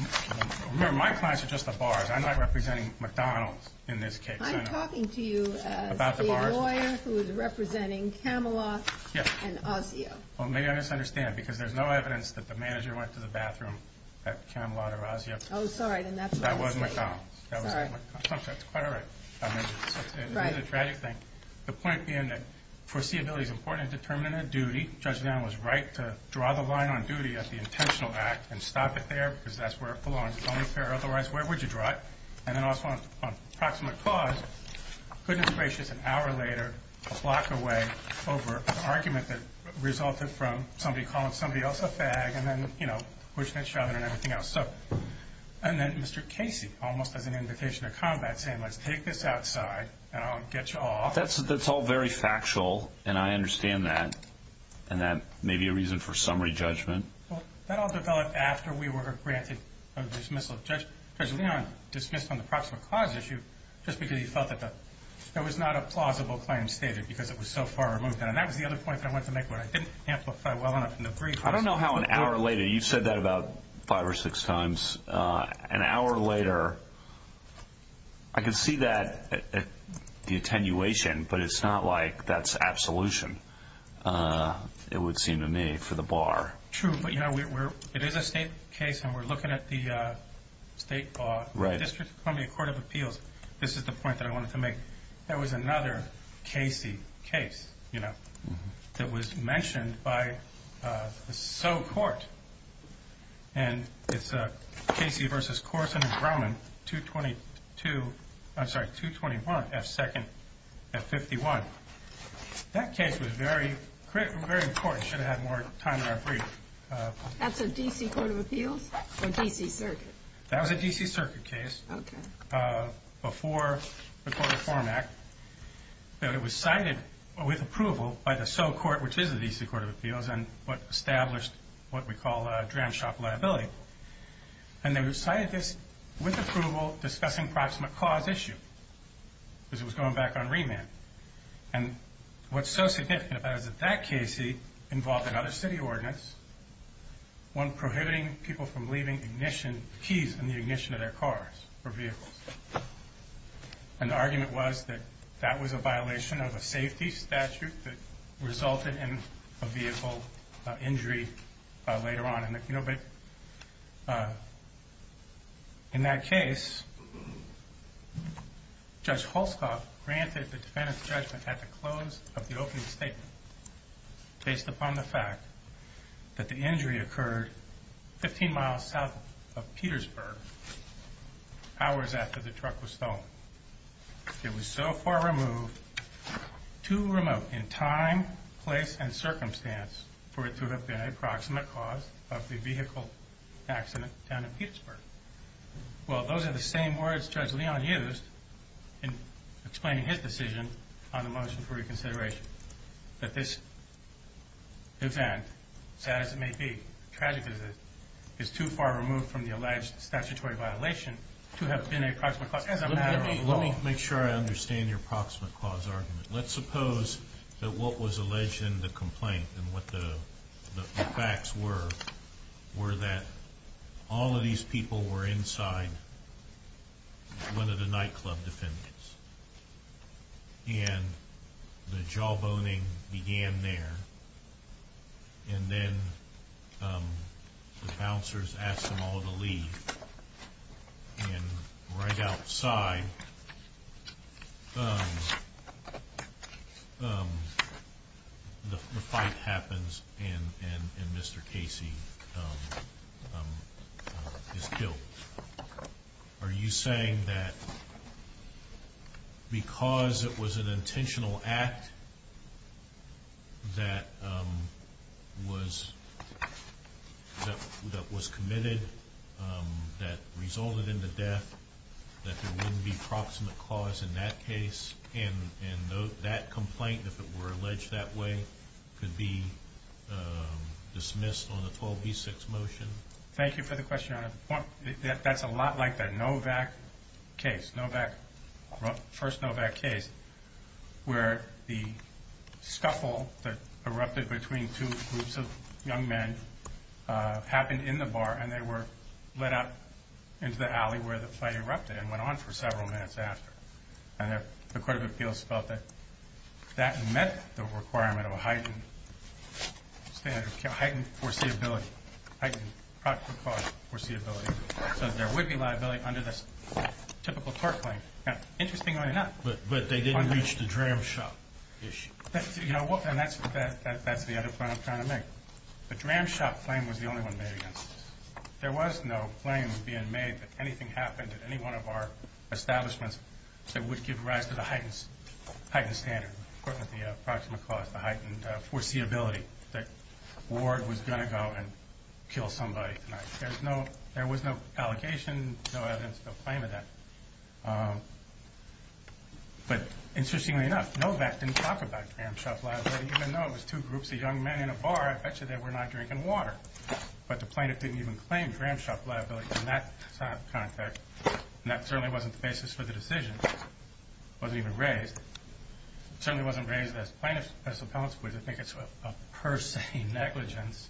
Remember, my clients are just the bars. I'm not representing McDonald's in this case. I'm talking to you as a lawyer who is representing Camelot and Ozzio. Well, maybe I misunderstand, because there's no evidence that the manager went to the bathroom at Camelot or Ozzio. Oh, sorry, then that's wrong. That was McDonald's. All right. It's a tragic thing. The point being that foreseeability is important in determining a duty. Judge Van was right to draw the line on duty as the intentional act and stop it there because that's where it belongs. It's only fair otherwise. Where would you draw it? And then also on proximate cause, goodness gracious, an hour later a block away over an argument that resulted from somebody calling somebody else a fag and then, you know, pushing each other and everything else. And then Mr. Casey almost as an invitation to combat saying let's take this outside and I'll get you all off. That's all very factual, and I understand that. And that may be a reason for summary judgment. That all developed after we were granted a dismissal. Judge Van dismissed on the proximate cause issue just because he felt that that was not a plausible claim stated because it was so far removed. And that was the other point I wanted to make, but I didn't amplify well enough in the brief. I don't know how an hour later, you said that about five or six times, an hour later I could see that at the attenuation, but it's not like that's absolution. It would seem to me for the bar. True. But, you know, it is a state case and we're looking at the state law. Right. Just from the court of appeals, this is the point that I wanted to make. And it's Casey versus Corson and Drummond, 222. I'm sorry, 221 at second at 51. That case was very, very important. Should have had more time in our brief. That's a DC court of appeals or DC circuit? That was a DC circuit case. Okay. Before the form act. Okay. I'm not going to go into the details of what the form act was and what established what we call a gram shop liability. And they decided this. With approval discussing approximate cause issue. This was going back on remand. And what's so significant about that case. He involved another city ordinance. One prohibiting people from leaving ignition keys in the ignition of their cars or vehicles. And the argument was that that was a violation of a safety statute that resulted in a vehicle injury later on. In that case, just hold Scott granted the defendant's judgment at the close of the open state. Based upon the fact that the injury occurred 15 miles south of the truck was stolen. It was so far removed to remote in time, place, and circumstance for it to have been an approximate cause of the vehicle accident down in Pittsburgh. Well, those are the same words just Leon used in explaining his decision on the motion for reconsideration. That this event, as it may be, tragedy is too far removed from the alleged statutory violation to have been an approximate cause. Let me make sure I understand your approximate cause argument. Let's suppose that what was alleged in the complaint and what the facts were, were that all of these people were inside. One of the nightclub defendants and the jawboning began there. And then the bouncers asked them all to leave. And right outside the fight happens. And Mr. Casey is killed. Are you saying that because it was an intentional act that was committed, that resulted in the death, that there wouldn't be proximate cause in that case. And, and that complaint, if it were alleged that way, could be dismissed on the 12D6 motion. Thank you for the question. That's a lot like that. Novak case, Novak first Novak case where the stuff all that erupted between two groups of young men happened in the bar and they were let out into the alley where the fight erupted and went on for several minutes after. And if the court of appeals felt that that met the requirement of a heightened standard, heightened foreseeability, heightened proximate cause foreseeability, that there would be liability under this typical court claim. Now, interestingly enough, but, but they didn't reach the dram shop issue. You know what? And that's, that's the other point I'm trying to make. The dram shop claim was the only one made. There was no claims being made that anything happened at any one of our establishments that would give rise to the heightened, heightened standard, the approximate cost, the heightened foreseeability that Ward was going to go and kill somebody. There's no, there was no allegation, no other claim to that. But interestingly enough, Novak didn't talk about dram shop liability even though it was two groups of young men in a bar. I bet you they were not drinking water, but the plaintiff didn't even claim dram shop liability in that context. And that certainly wasn't the basis for the decision. It wasn't even raised. It certainly wasn't raised as plaintiff's responsibility. I think it's a per se negligence,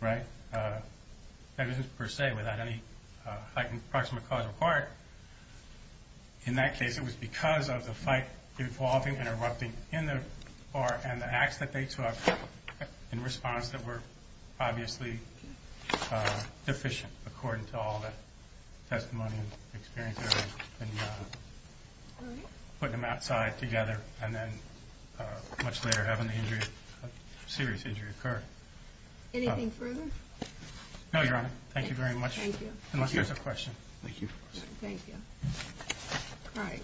right? And this is per se without any heightened proximate cause or part. In that case, it was because of the fight involving interrupting in the bar and the act that they took in response that were obviously deficient, according to all that testimony and experience, and putting them outside together. And then much later having the injury, serious injury occurred. Anything further? No, Your Honor. Thank you very much. Thank you. Thank you. Thank you. All right.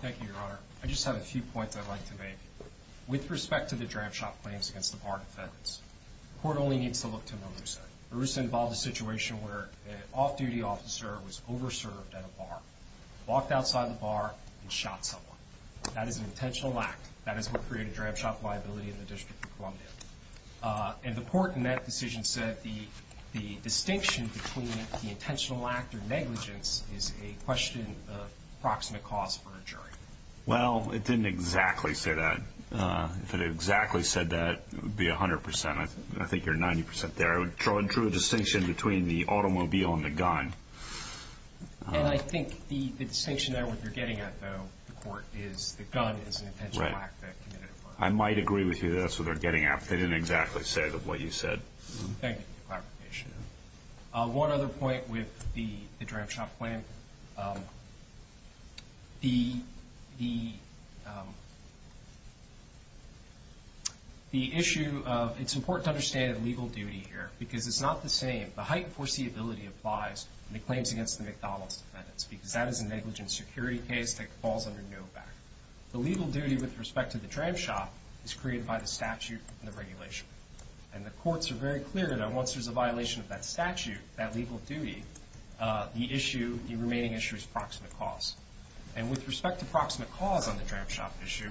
Thank you, Your Honor. I just have a few points I'd like to make. With respect to the dram shop against the bar defense, the court only needs to look to one reason. It was involved in a situation where an off-duty officer was over-served at a bar, walked outside the bar, and shot someone. That is an intentional lack. That is what created dram shop liability in the District of Columbia. And the court in that decision said the distinction between the intentional lack or negligence is a question of proximate cause for a jury. Well, it didn't exactly say that. If it had exactly said that, it would be 100%. I think you're 90% there. It drew a distinction between the automobile and the gun. And I think the distinction that you're getting at, though, the court, is the gun is an intentional lack. I might agree with you there. So they're getting at it. They didn't exactly say what you said. Thank you for clarification. One other point with the dram shop plan. The issue of, it's important to understand the legal duty here, because it's not the same. The heightened foreseeability applies to the claims against the McDonald's defense, because that is a negligent security case that falls under Novak. The legal duty with respect to the dram shop is created by the statute and the regulation. And the courts are very clear that once there's a violation of that statute, that legal duty, the issue, the remaining issue is proximate cause. And with respect to proximate cause on the dram shop issue,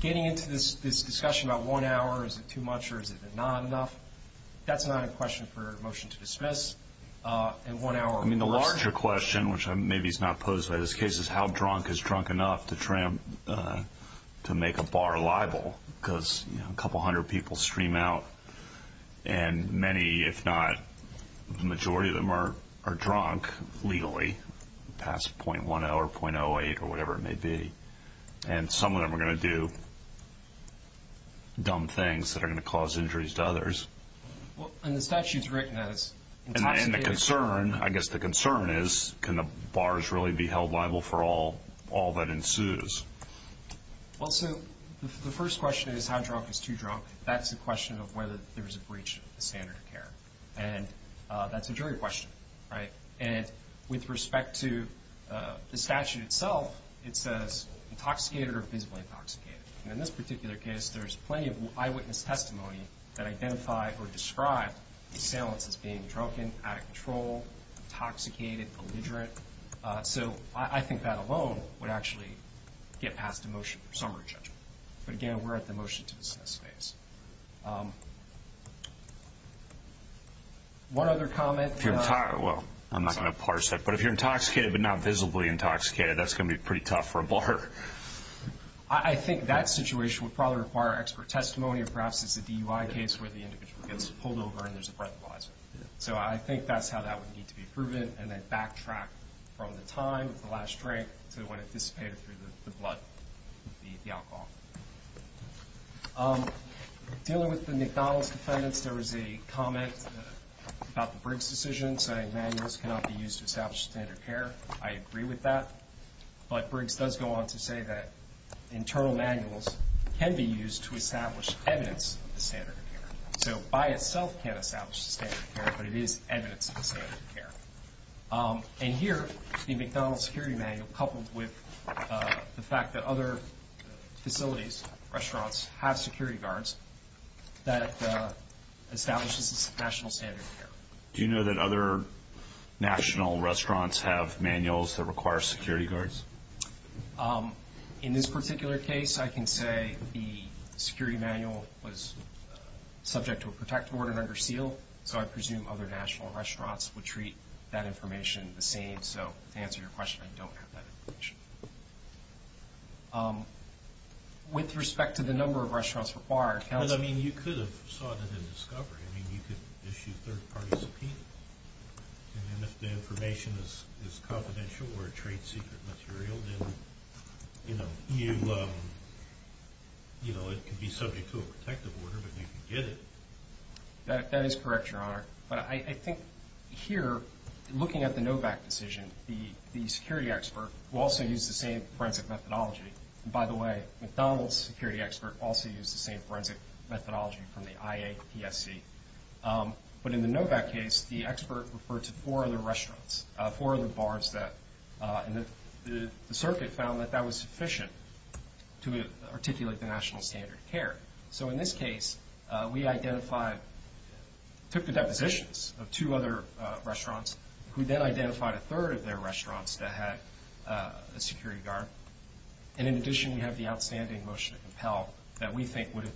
getting into this discussion about one hour, is it too much or is it not enough? That's not a question for motion to dismiss. I mean, the larger question, which maybe is not posed by this case, is how drunk is drunk enough to try to make a bar libel? Because a couple hundred people stream out. And many, if not the majority of them are drunk legally, past .10 or .08 or whatever it may be. And some of them are going to do dumb things that are going to cause injuries to others. And the statute is written as. And the concern, I guess the concern is, can the bars really be held liable for all that ensues? Also, the first question is how drunk is too drunk. That's the question of whether there's a breach of the standard of care. And that's a jury question, right? And with respect to the statute itself, it says intoxicated or physically intoxicated. And in this particular case, there's plenty of eyewitness testimony that identify or describe these panelists as being drunken, out of control, intoxicated, belligerent. So I think that alone would actually get passed the motion for summary judgment. But again, we're at the motion to dismiss phase. One other comment. Well, I'm not going to parse that, but if you're intoxicated, but not visibly intoxicated, that's going to be pretty tough for a bar. I think that situation would probably require expert testimony. And perhaps it's a DUI case where the individual gets pulled over and there's a breath of water. So I think that's how that would need to be proven. And then backtrack from the time, the last drink, to when it dissipated through the blood, the alcohol. Dealing with the McDonald's defendants, there was a comment about the Briggs decision saying, none of this cannot be used to establish standard care. I agree with that. But Briggs does go on to say that internal manuals can be used to establish evidence of standard care. So by itself can't establish standard care, but it is evidence of standard care. And here, the McDonald's security manual coupled with the fact that other facilities, restaurants, have security guards that establishes national standard of care. Do you know that other national restaurants have manuals that require security guards? In this particular case, I can say the security manual was subject to a protective order under Steele. So I presume other national restaurants would treat that information the same. So to answer your question, we don't have that information. With respect to the number of restaurants required, I mean, you could have sought it in discovery. I mean, you could issue third-party subpoenas. And if the information is confidential or a trade secret material, then, you know, it could be subject to a protective order, but we can get it. That is correct, Your Honor. But I think here, looking at the Novak decision, the security expert will also use the same forensic methodology. By the way, McDonald's security expert also used the same forensic methodology from the IA PFC. But in the Novak case, the expert referred to four other restaurants, four of the bars that the circuit found that that was sufficient to articulate the national standard of care. So in this case, we identified, took the depositions of two other restaurants, who then identified a third of their restaurants that had a security guard. And in addition, we have the outstanding motion of health that we think would have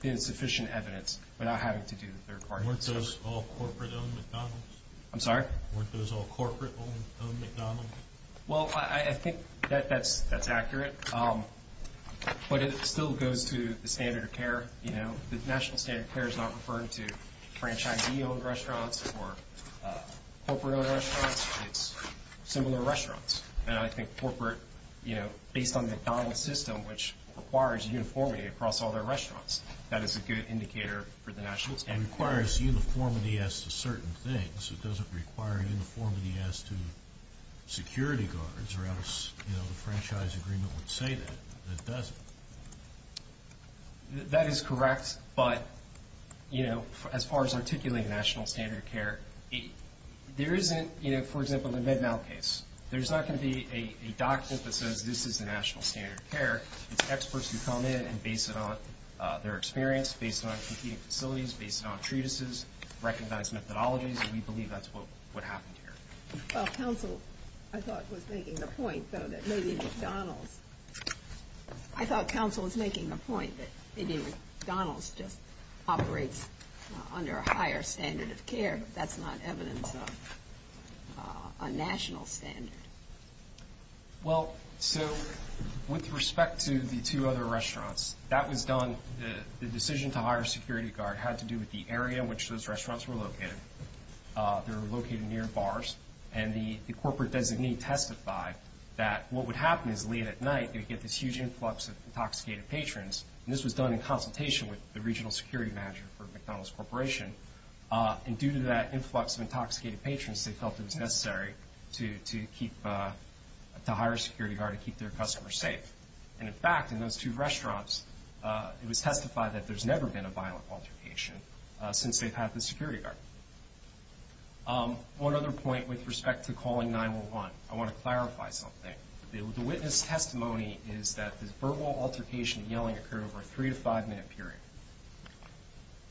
been sufficient evidence without having to do the third part. Weren't those all corporate-owned McDonald's? I'm sorry? Weren't those all corporate-owned McDonald's? Well, I think that's accurate. But it still goes to the standard of care. You know, the national standard of care is not referring to franchisee-owned restaurants or corporate-owned restaurants. It's similar restaurants. And I think corporate, you know, based on McDonald's system, which requires uniformity across all their restaurants, that is a good indicator for the national standard of care. It requires uniformity as to certain things. It doesn't require uniformity as to security guards, or else, you know, the franchise agreement would say that. It doesn't. That is correct. But, you know, as far as articulating national standard of care, there isn't, you know, for example, in the Mid-Mount case. There's not going to be a document that says, this is the national standard of care. It's experts who come in and base it on their experience, based on competing facilities, based on treatises, recognized methodologies, and we believe that's what happens here. Well, counsel, I thought was making the point, though, that maybe McDonald's, I thought counsel was making the point that maybe McDonald's just operates under a higher standard of care. That's not evident on national standards. Well, so, with respect to the two other restaurants, that was done, the decision to hire a security guard had to do with the area in which those restaurants were located. They were located near bars, and the corporate designee testified that what would happen is, late at night, they would get this huge influx of intoxicated patrons, and this was done in consultation with the regional security manager for McDonald's Corporation, and due to that influx of intoxicated patrons, they felt it was necessary to hire a security guard to keep their customers safe. And, in fact, in those two restaurants, it was testified that there's never been a violent altercation since they've had the security guard. One other point with respect to calling 911. I want to clarify something. The witness testimony is that this verbal altercation and yelling occurred over a three- to five-minute period.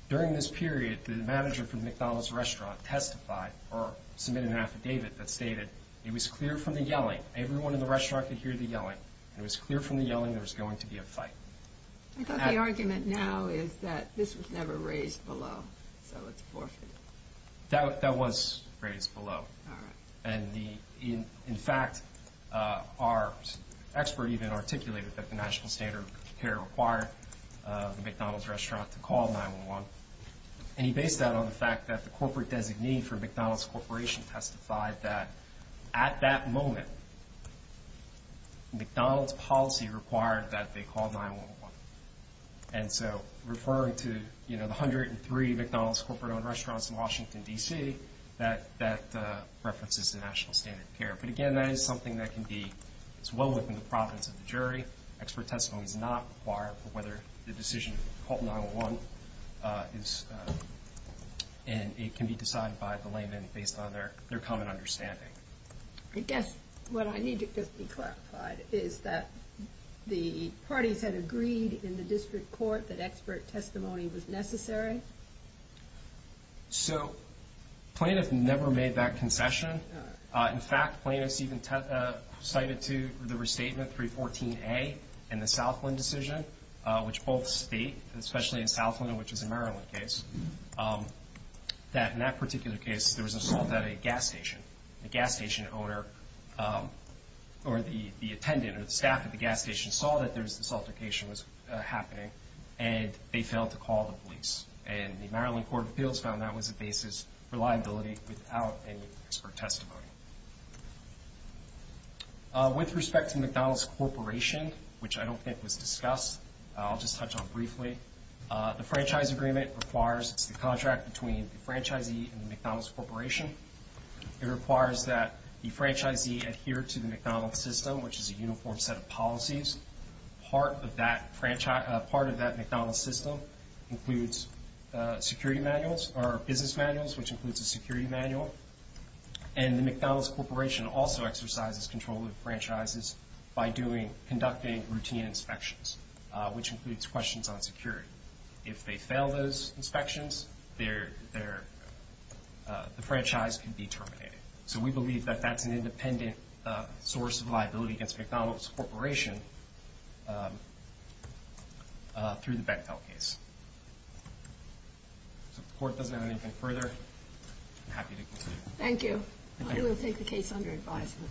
During this period, the manager for McDonald's restaurant testified, or submitted an affidavit that stated it was clear from the yelling, everyone in the restaurant could hear the yelling, it was clear from the yelling there was going to be a fight. I thought the argument now is that this was never raised below, so it's forfeited. That was raised below. All right. And, in fact, our expert even articulated that the national standard of care required McDonald's restaurants to call 911. And he based that on the fact that the corporate designee for McDonald's Corporation testified that, at that moment, McDonald's policy required that they call 911. And so, referring to, you know, the 103 McDonald's corporate-owned restaurants in Washington, D.C., that references the national standard of care. But, again, that is something that can be as well within the province of the jury. That expert testimony is not required for whether the decision to call 911 is, and it can be decided by the layman based on their common understanding. I guess what I need to clarify is that the parties had agreed in the district court that expert testimony was necessary? So, Plaintiff never made that concession. In fact, Plaintiff even cited to the restatement 314A in the Southland decision, which both speak, especially in Southland, which is a Maryland case, that, in that particular case, there was an assault at a gas station. The gas station owner, or the attendant, or the staff at the gas station, saw that there was an assault occasion was happening, and they failed to call the police. And the Maryland Court of Appeals found that was the basis for liability without any expert testimony. With respect to McDonald's Corporation, which I don't think was discussed, I'll just touch on it briefly. The franchise agreement requires the contract between the franchisee and the McDonald's Corporation. It requires that the franchisee adhere to the McDonald's system, which is a uniform set of policies. Part of that McDonald's system includes security manuals, or business manuals, which includes a security manual. And the McDonald's Corporation also exercises control of the franchises by conducting routine inspections, which includes questions on security. If they fail those inspections, the franchise can be terminated. So we believe that that's an independent source of liability against McDonald's Corporation through the Bechtel case. If the Court doesn't have anything further, I'm happy to conclude. Thank you. I will take the case under advisement.